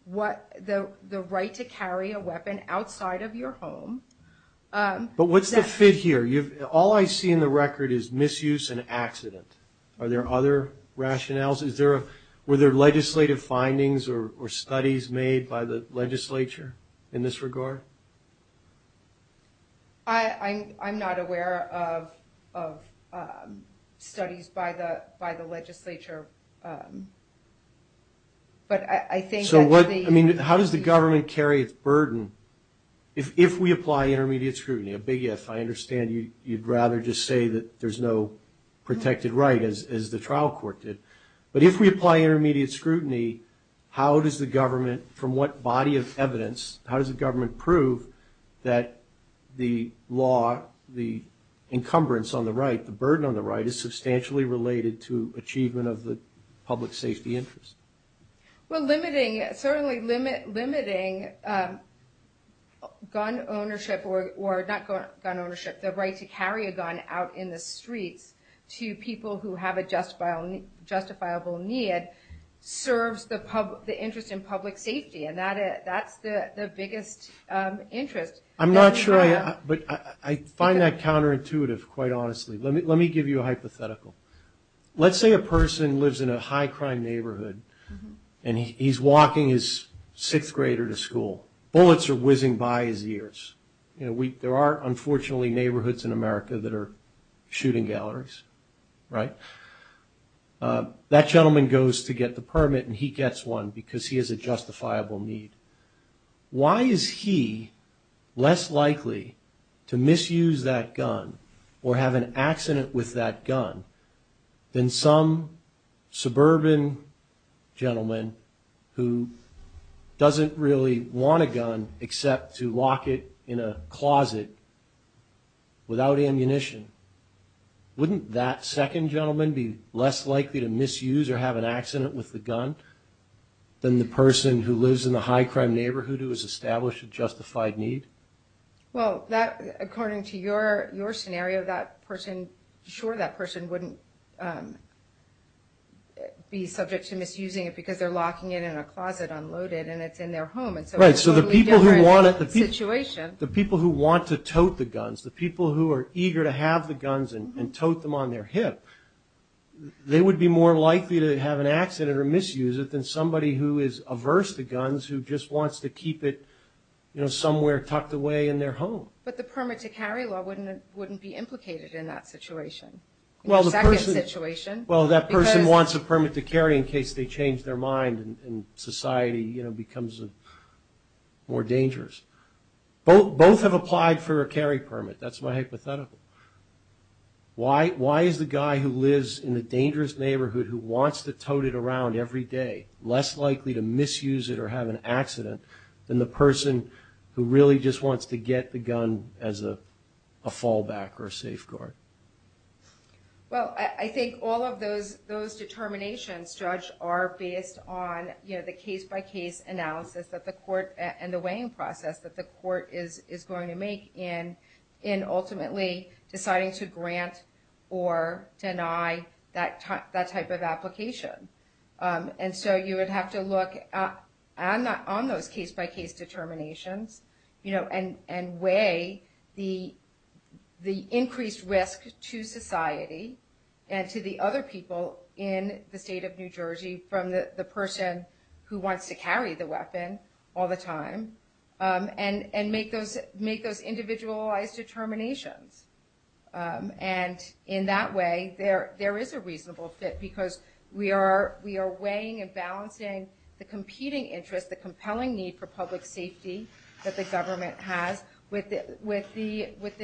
the right to carry a weapon outside of your home. But what's the fit here? All I see in the record is misuse and accident. Are there other rationales? Were there legislative findings or studies made by the legislature in this regard? I'm not aware of studies by the legislature. How does the government carry its burden if we apply intermediate scrutiny? A big yes. I understand you'd rather just say that there's no protected right, as the trial court did. But if we apply intermediate scrutiny, how does the government, from what body of evidence, how does the government prove that the law, the encumbrance on the right, the burden on the right is substantially related to achievement of the public safety interest? Well, certainly limiting gun ownership or not gun ownership, the right to carry a gun out in the street to people who have a justifiable need, serves the interest in public safety, and that's the biggest interest. I'm not sure, but I find that counterintuitive, quite honestly. Let me give you a hypothetical. Let's say a person lives in a high-crime neighborhood, and he's walking his sixth grader to school. Bullets are whizzing by his ears. There are, unfortunately, neighborhoods in America that are shooting galleries. That gentleman goes to get the permit, and he gets one because he has a justifiable need. Why is he less likely to misuse that gun or have an accident with that gun than some suburban gentleman who doesn't really want a gun, except to lock it in a closet without ammunition? Wouldn't that second gentleman be less likely to misuse or have an accident with the gun than the person who lives in a high-crime neighborhood who has established a justified need? Well, according to your scenario, sure, that person wouldn't be subject to misusing it because they're locking it in a closet unloaded, and it's in their home. Right, so the people who want to tote the guns, the people who are eager to have the guns and tote them on their hip, they would be more likely to have an accident or misuse it than somebody who is averse to guns, who just wants to keep it somewhere tucked away in their home. But the permit-to-carry law wouldn't be implicated in that situation. Well, that person wants a permit-to-carry in case they change their mind and society becomes more dangerous. Both have applied for a carry permit. That's my hypothetical. Why is the guy who lives in a dangerous neighborhood who wants to tote it around every day less likely to misuse it or have an accident than the person who really just wants to get the gun as a fallback or a safeguard? Well, I think all of those determinations, Judge, are based on the case-by-case analysis and the weighing process that the court is going to make in ultimately deciding to grant or deny that type of application. And so you would have to look on those case-by-case determinations and weigh the increased risk to society and to the other people in the state of New Jersey from the person who wants to carry the weapon all the time and make those individualized determinations. And in that way, there is a reasonable fit because we are weighing and balancing the competing interest, the compelling need for public safety that the government has with the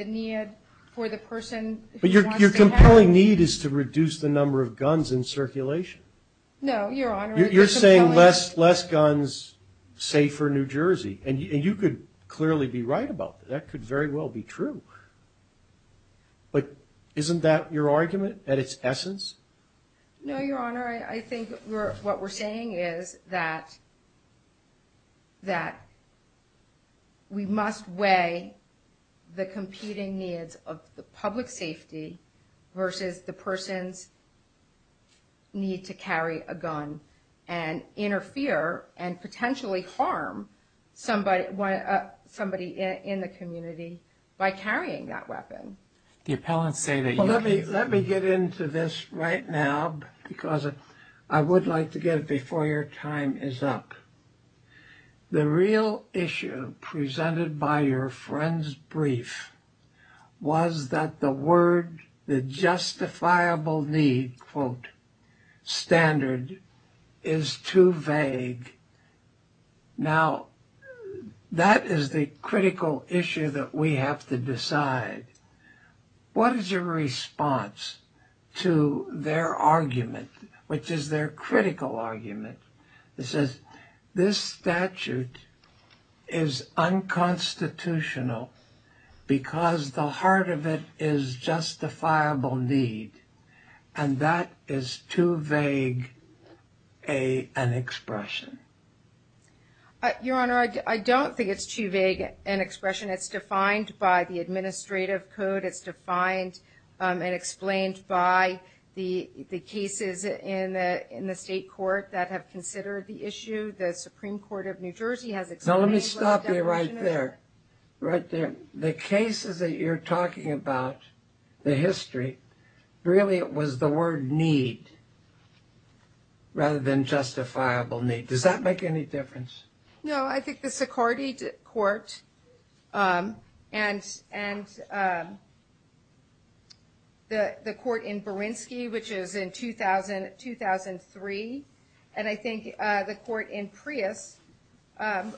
need for the person... But your compelling need is to reduce the number of guns in circulation. No, Your Honor. You're saying less guns, safer New Jersey. And you could clearly be right about that. That could very well be true. But isn't that your argument at its essence? No, Your Honor. I think what we're saying is that we must weigh the competing needs of the public safety versus the person's need to carry a gun and interfere and potentially harm somebody in the community by carrying that weapon. Let me get into this right now because I would like to get it before your time is up. The real issue presented by your friend's brief was that the word, the justifiable need, quote, unquote, standard is too vague. Now, that is the critical issue that we have to decide. What is your response to their argument, which is their critical argument? It says, this statute is unconstitutional because the heart of it is justifiable need. And that is too vague an expression. Your Honor, I don't think it's too vague an expression. It's defined by the administrative code. It's defined and explained by the cases in the state court that have considered the issue. The Supreme Court of New Jersey has explained... No, let me stop you right there. Right there. The cases that you're talking about, the history, really it was the word need rather than justifiable need. Does that make any difference? No, I think the Sicardy court and the court in Berinsky, which is in 2003, and I think the court in Prius,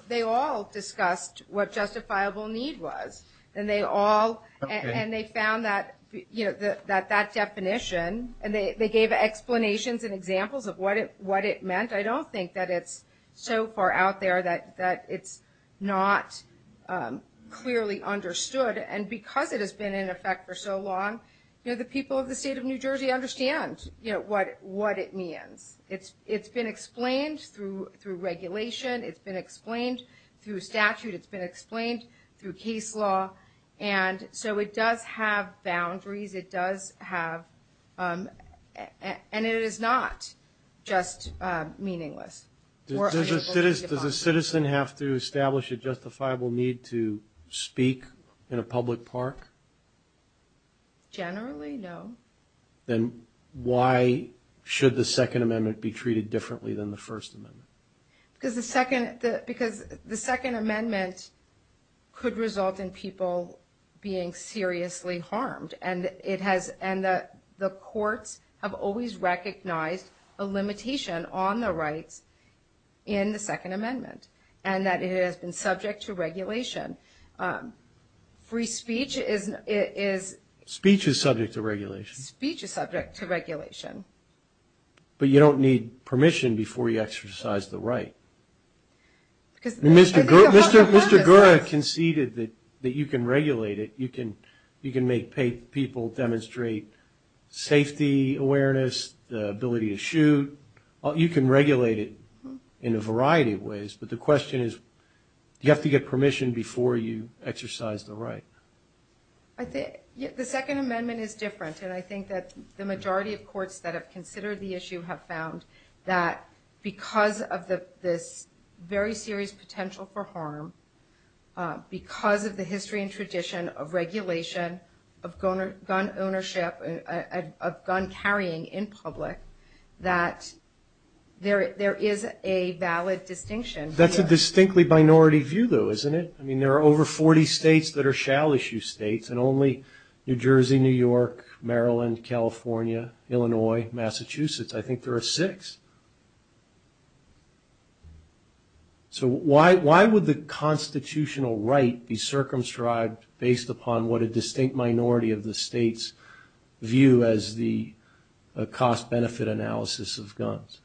they all discussed what justifiable need was. And they all... Okay. And they found that definition, and they gave explanations and examples of what it meant. I don't think that it's so far out there that it's not clearly understood. And because it has been in effect for so long, the people of the state of New Jersey understand what it means. It's been explained through regulation. It's been explained through statute. It's been explained through case law. And so it does have boundaries. It does have... And it is not just meaningless. Does a citizen have to establish a justifiable need to speak in a public park? Generally, no. Then why should the Second Amendment be treated differently than the First Amendment? Because the Second Amendment could result in people being seriously harmed. And the courts have always recognized a limitation on the right in the Second Amendment, and that it has been subject to regulation. Free speech is... Free speech is subject to regulation. But you don't need permission before you exercise the right. Mr. Gura conceded that you can regulate it. You can make people demonstrate safety awareness, the ability to shoot. You can regulate it in a variety of ways. But the question is, do you have to get permission before you exercise the right? The Second Amendment is different. And I think that the majority of courts that have considered the issue have found that because of this very serious potential for harm, because of the history and tradition of regulation, of gun ownership, of gun carrying in public, that there is a valid distinction. That's a distinctly minority view, though, isn't it? I mean, there are over 40 states that are shall-issue states, and only New Jersey, New York, Maryland, California, Illinois, Massachusetts, I think there are six. So why would the constitutional right be circumscribed based upon what a distinct minority of the states view as the cost-benefit analysis of guns?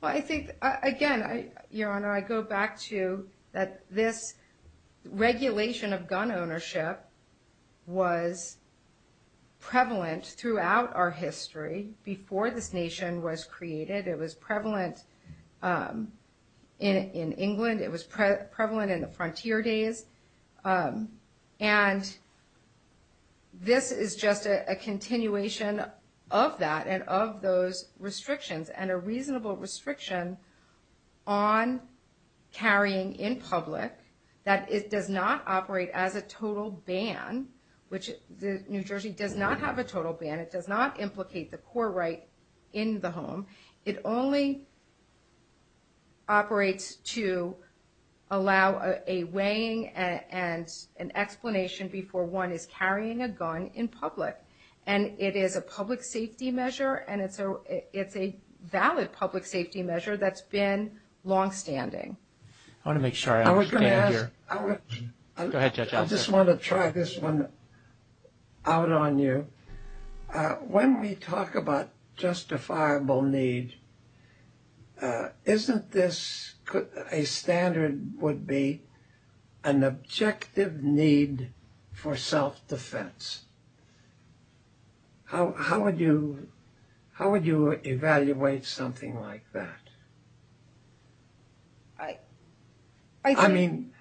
Well, I think, again, Your Honor, I go back to this regulation of gun ownership was prevalent throughout our history before this nation was created. It was prevalent in England. It was prevalent in the frontier days. And this is just a continuation of that and of those restrictions and a reasonable restriction on carrying in public that it does not operate as a total ban, which New Jersey does not have a total ban. It does not implicate the core right in the home. It only operates to allow a weighing and an explanation before one is carrying a gun in public. And it is a public safety measure, and it's a valid public safety measure that's been longstanding. I want to make sure I understand you. I just want to try this one out on you. When we talk about justifiable need, isn't this a standard would be an objective need for self-defense? How would you evaluate something like that? I mean,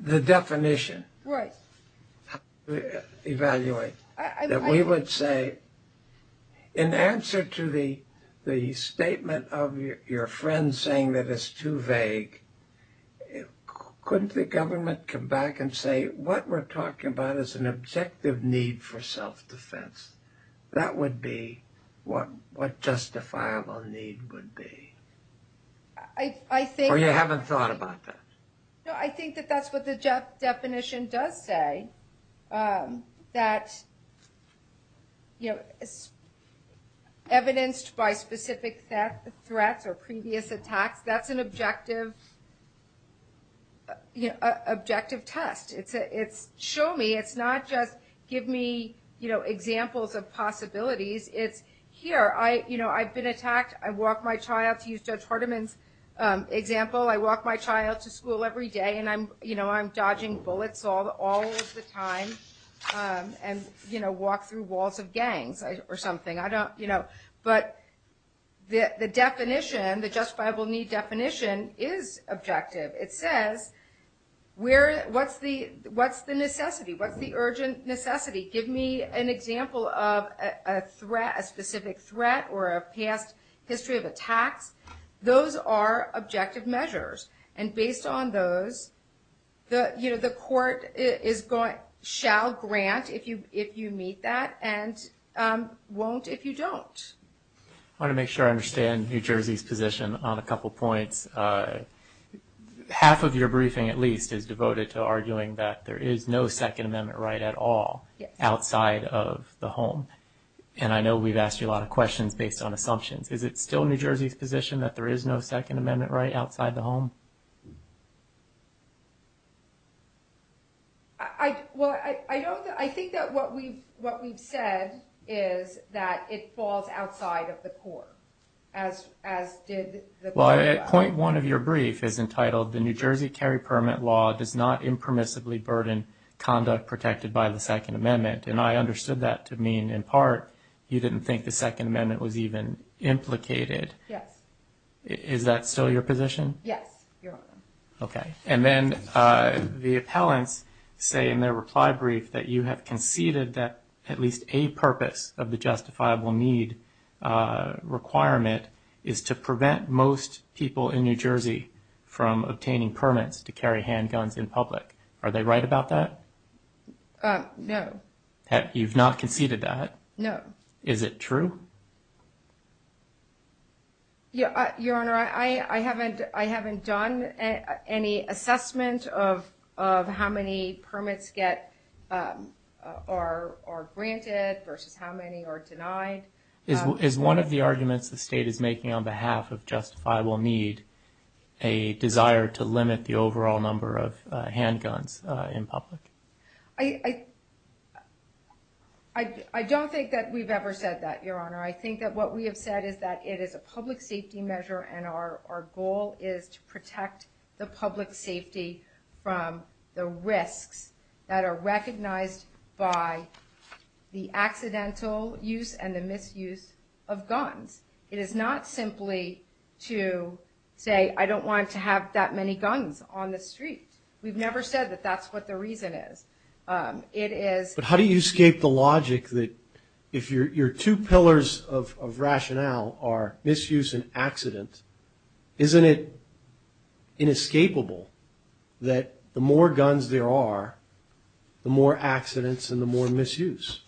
the definition. Right. Evaluate. We would say in answer to the statement of your friend saying that it's too vague, couldn't the government come back and say what we're talking about is an objective need for self-defense? That would be what justifiable need would be. Or you haven't thought about that? No, I think that that's what the definition does say, that it's evidenced by specific threats or previous attacks. That's an objective test. It's show me. It's not just give me examples of possibilities. It's here. I've been attacked. I walk my child. To use Judge Hardiman's example, I walk my child to school every day, and I'm dodging bullets all of the time and walk through walls of gangs or something. But the definition, the justifiable need definition is objective. It says what's the necessity? What's the urgent necessity? Give me an example of a specific threat or a past history of attack. Those are objective measures, and based on those, the court shall grant if you meet that and won't if you don't. I want to make sure I understand New Jersey's position on a couple points. Half of your briefing at least is devoted to arguing that there is no Second Amendment right at all outside of the home, and I know we've asked you a lot of questions based on assumptions. Is it still New Jersey's position that there is no Second Amendment right outside the home? I think that what we've said is that it falls outside of the court, as did the brief. Point one of your brief is entitled, The New Jersey Carry Permit Law does not impermissibly burden conduct protected by the Second Amendment, and I understood that to mean in part you didn't think the Second Amendment was even implicated. Yes. Is that still your position? Yes. Okay, and then the appellants say in their reply brief that you have conceded that at least a purpose of the justifiable need requirement is to prevent most people in New Jersey from obtaining permits to carry handguns in public. Are they right about that? No. You've not conceded that? No. Is it true? Your Honor, I haven't done any assessment of how many permits are granted versus how many are denied. Is one of the arguments the state is making on behalf of justifiable need a desire to limit the overall number of handguns in public? I don't think that we've ever said that, Your Honor. I think that what we have said is that it is a public safety measure, and our goal is to protect the public safety from the risks that are recognized by the accidental use and the misuse of guns. It is not simply to say, I don't want to have that many guns on the street. We've never said that that's what the reason is. But how do you escape the logic that if your two pillars of rationale are misuse and accident, isn't it inescapable that the more guns there are, the more accidents and the more misuse?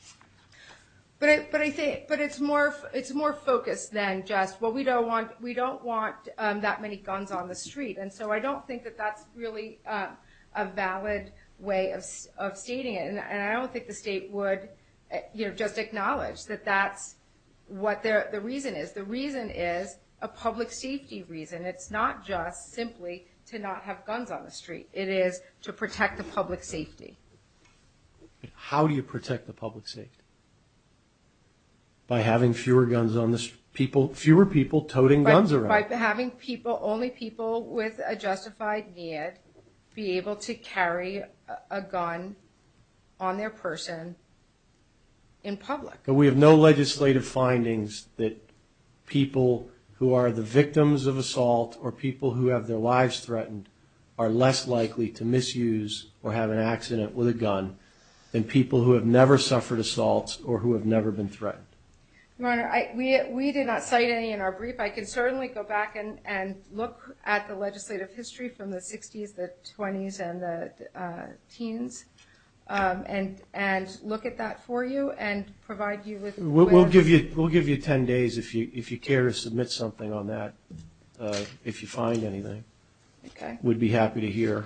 But it's more focused than just, well, we don't want that many guns on the street. And so I don't think that that's really a valid way of stating it. And I don't think the state would just acknowledge that that's what the reason is. The reason is a public safety reason. It's not just simply to not have guns on the street. It is to protect the public safety. How do you protect the public safety? By having fewer guns on the street? Fewer people toting guns around? By having people, only people with a justified need, be able to carry a gun on their person in public. We have no legislative findings that people who are the victims of assault or people who have their lives threatened are less likely to misuse or have an accident with a gun than people who have never suffered assaults or who have never been threatened. Governor, we did not cite any in our brief. I can certainly go back and look at the legislative history from the 60s, the 20s, and the teens and look at that for you and provide you with a list. We'll give you 10 days if you care to submit something on that, if you find anything. Okay. We'd be happy to hear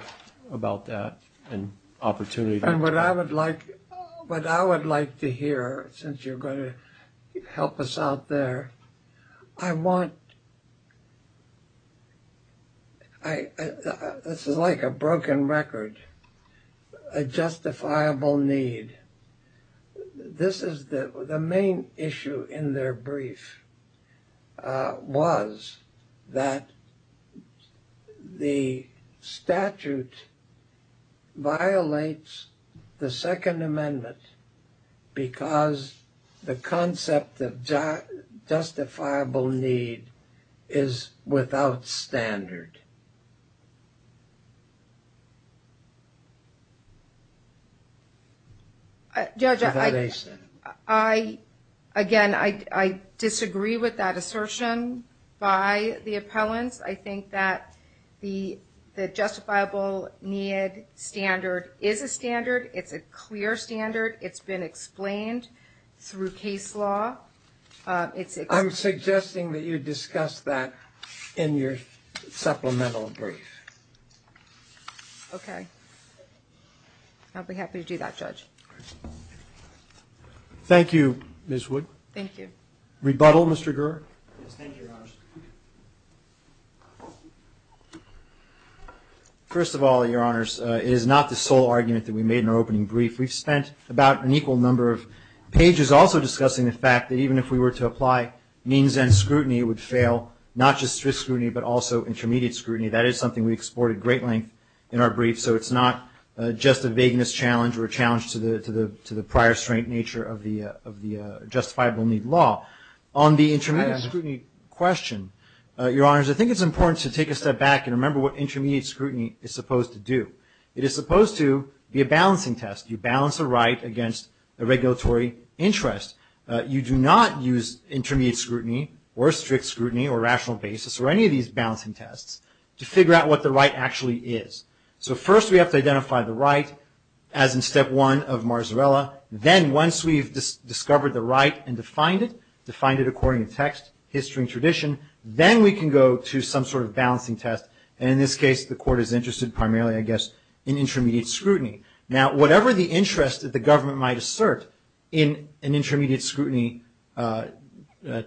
about that and opportunities. What I would like to hear, since you're going to help us out there, I want, this is like a broken record, a justifiable need. The main issue in their brief was that the statute violates the Second Amendment because the concept of justifiable need is without standard. Again, I disagree with that assertion by the appellants. I think that the justifiable need standard is a standard. It's a clear standard. It's been explained through case law. I'm suggesting that you discuss that in your supplemental brief. Okay. I'll be happy to do that, Judge. Thank you, Ms. Wood. Thank you. Rebuttal, Mr. Gurr? Thank you, Your Honors. First of all, Your Honors, it is not the sole argument that we made in our opening brief. We've spent about an equal number of pages also discussing the fact that even if we were to apply means and scrutiny, it would fail, not just risk scrutiny but also intermediate scrutiny. That is something we explored at great length in our brief, so it's not just a vagueness challenge or a challenge to the prior strength nature of the justifiable need law. On the intermediate scrutiny question, Your Honors, I think it's important to take a step back and remember what intermediate scrutiny is supposed to do. It is supposed to be a balancing test. You balance the right against the regulatory interest. You do not use intermediate scrutiny or strict scrutiny or rational basis or any of these balancing tests to figure out what the right actually is. So first we have to identify the right as in step one of Marzarella. Then once we've discovered the right and defined it, defined it according to text, history and tradition, then we can go to some sort of balancing test. And in this case, the court is interested primarily, I guess, in intermediate scrutiny. Now, whatever the interest that the government might assert in an intermediate scrutiny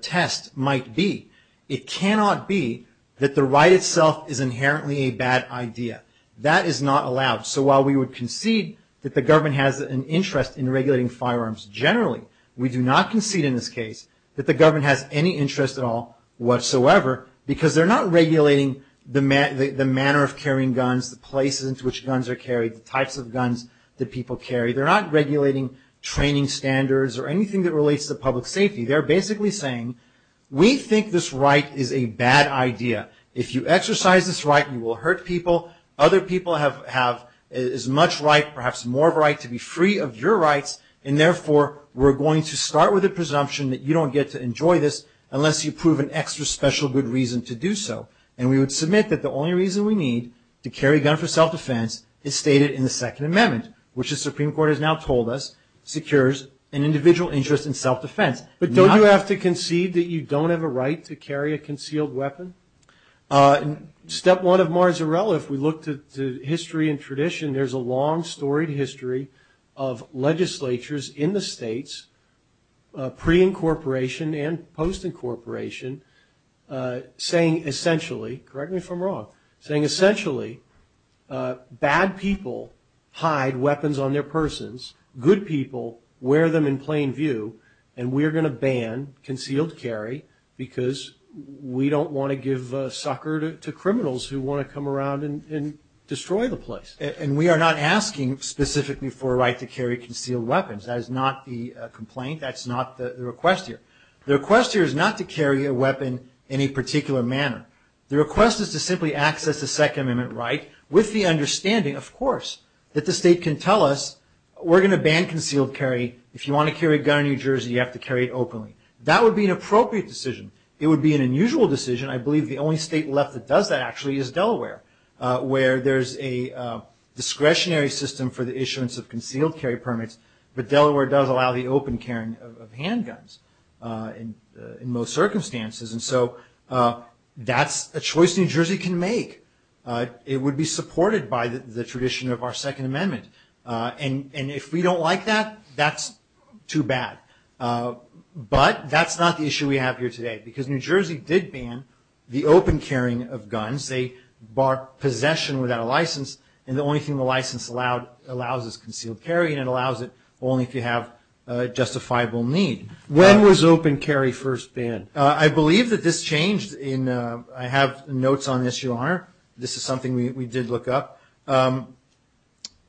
test might be, it cannot be that the right itself is inherently a bad idea. That is not allowed. So while we would concede that the government has an interest in regulating firearms generally, we do not concede in this case that the government has any interest at all whatsoever because they're not regulating the manner of carrying guns, the places in which guns are carried, the types of guns that people carry. They're not regulating training standards or anything that relates to public safety. They're basically saying we think this right is a bad idea. If you exercise this right, you will hurt people. Other people have as much right, perhaps more right to be free of your rights, and therefore we're going to start with a presumption that you don't get to enjoy this unless you prove an extra special good reason to do so. And we would submit that the only reason we need to carry a gun for self-defense is stated in the Second Amendment, which the Supreme Court has now told us secures an individual interest in self-defense. But don't you have to concede that you don't have a right to carry a concealed weapon? Step one of Marzarella, if we look to history and tradition, there's a long storied history of legislatures in the states, pre-incorporation and post-incorporation, saying essentially, correct me if I'm wrong, saying essentially bad people hide weapons on their persons, good people wear them in plain view, and we're going to ban concealed carry because we don't want to give a sucker to criminals who want to come around and destroy the place. And we are not asking specifically for a right to carry concealed weapons. That is not the complaint. That's not the request here. The request here is not to carry a weapon in any particular manner. The request is to simply access the Second Amendment right with the understanding, of course, that the state can tell us we're going to ban concealed carry. If you want to carry a gun in New Jersey, you have to carry it openly. That would be an appropriate decision. It would be an unusual decision. I believe the only state left that does that, actually, is Delaware, where there's a discretionary system for the issuance of concealed carry permits, but Delaware does allow the open carrying of handguns in most circumstances. And so that's a choice New Jersey can make. It would be supported by the tradition of our Second Amendment. And if we don't like that, that's too bad. But that's not the issue we have here today, because New Jersey did ban the open carrying of guns. They bar possession without a license, and the only thing the license allows is concealed carry, and it allows it only if you have a justifiable need. When was open carry first banned? I believe that this changed in – I have notes on this, Your Honor. This is something we did look up. I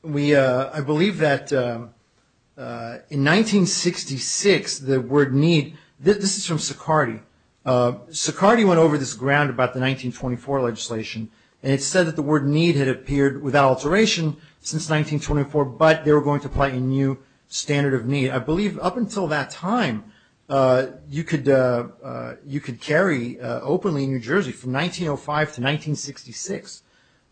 believe that in 1966, the word need – this is from Sicardy. Sicardy went over this ground about the 1924 legislation, and it said that the word need had appeared without alteration since 1924, but they were going to apply a new standard of need. I believe up until that time, you could carry openly in New Jersey from 1905 to 1966.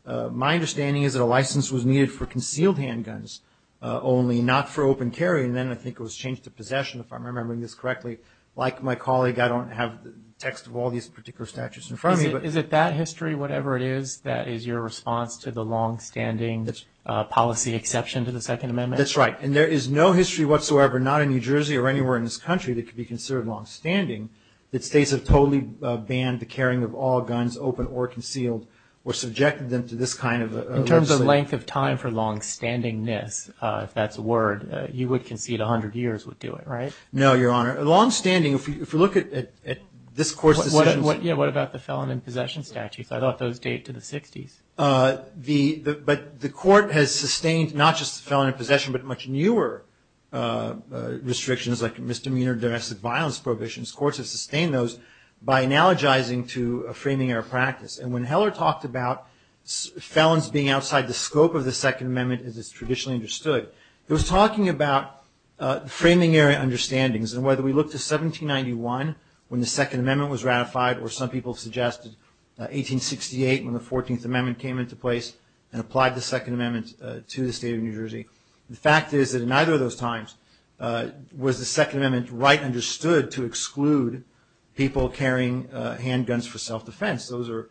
My understanding is that a license was needed for concealed handguns only, not for open carry, and then I think it was changed to possession, if I'm remembering this correctly. Like my colleague, I don't have the text of all these particular statutes in front of me. Is it that history, whatever it is, that is your response to the longstanding policy exception to the Second Amendment? That's right. And there is no history whatsoever, not in New Jersey or anywhere in this country, that could be considered longstanding that states have totally banned the carrying of all guns, open or concealed, or subjected them to this kind of – In terms of length of time for longstandingness, if that's a word, you would concede 100 years would do it, right? No, Your Honor. Longstanding, if you look at this court's decision – What about the felon in possession statute? I thought those date to the 60s. But the court has sustained not just the felon in possession, but much newer restrictions like misdemeanor directed violence prohibitions. Courts have sustained those by analogizing to a framing error practice. And when Heller talked about felons being outside the scope of the Second Amendment as it's traditionally understood, he was talking about framing error understandings and whether we look to 1791 when the Second Amendment was ratified or some people suggested 1868 when the Fourteenth Amendment came into place The fact is that in neither of those times was the Second Amendment right understood to exclude people carrying handguns for self-defense. Those are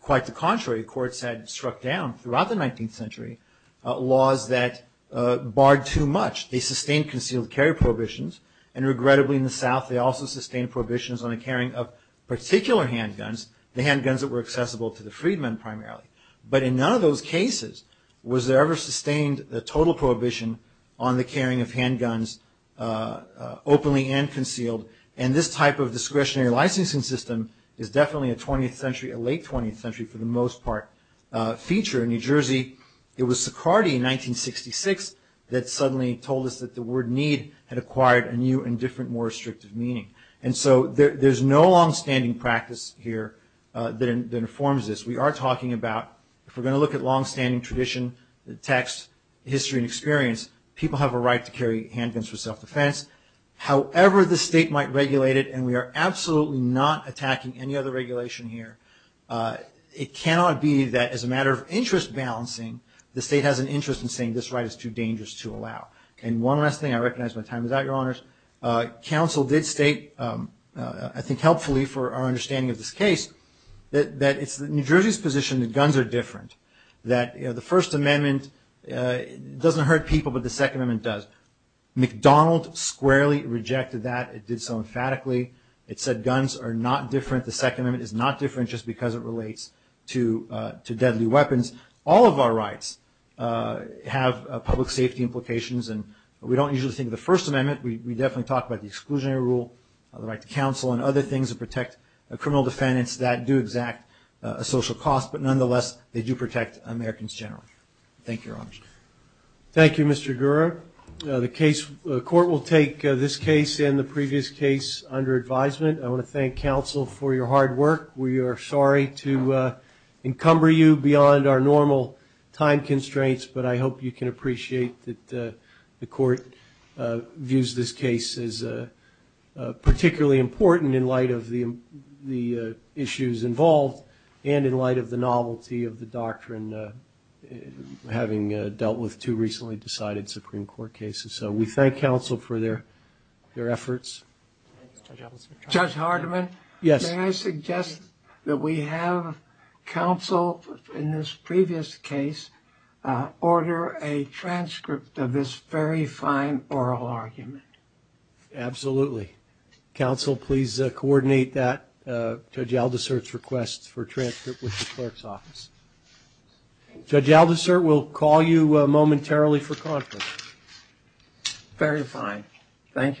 quite the contrary. Courts had struck down throughout the 19th century laws that barred too much. They sustained concealed carry prohibitions, and regrettably in the South they also sustained prohibitions on the carrying of particular handguns, the handguns that were accessible to the freedmen primarily. But in none of those cases was there ever sustained a total prohibition on the carrying of handguns openly and concealed. And this type of discretionary licensing system is definitely a 20th century, a late 20th century for the most part, feature in New Jersey. It was Socrates in 1966 that suddenly told us that the word need had acquired a new and different more restrictive meaning. And so there's no long-standing practice here that informs this. We are talking about, if we're going to look at long-standing tradition, text, history and experience, people have a right to carry handguns for self-defense. However the state might regulate it, and we are absolutely not attacking any other regulation here, it cannot be that as a matter of interest balancing, the state has an interest in saying this right is too dangerous to allow. And one last thing, I recognize my time is out, Your Honors. Council did state, I think helpfully for our understanding of this case, that it's New Jersey's position that guns are different, that the First Amendment doesn't hurt people but the Second Amendment does. McDonald squarely rejected that, it did so emphatically. It said guns are not different, the Second Amendment is not different just because it relates to deadly weapons. All of our rights have public safety implications and we don't usually think of the First Amendment, we definitely talk about the exclusionary rule, the right to counsel and other things that protect criminal defendants that do exact a social cost, but nonetheless they do protect Americans in general. Thank you, Your Honors. Thank you, Mr. Gura. The court will take this case and the previous case under advisement. I want to thank counsel for your hard work. We are sorry to encumber you beyond our normal time constraints, but I hope you can appreciate that the court views this case as particularly important in light of the issues involved and in light of the novelty of the doctrine having dealt with two recently decided Supreme Court cases. So we thank counsel for their efforts. Judge Hardiman? Yes. May I suggest that we have counsel in this previous case order a transcript of this very fine oral argument? Absolutely. Counsel, please coordinate that Judge Aldisert's request for transcript with the court's office. Judge Aldisert will call you momentarily for conference. Very fine. Thank you.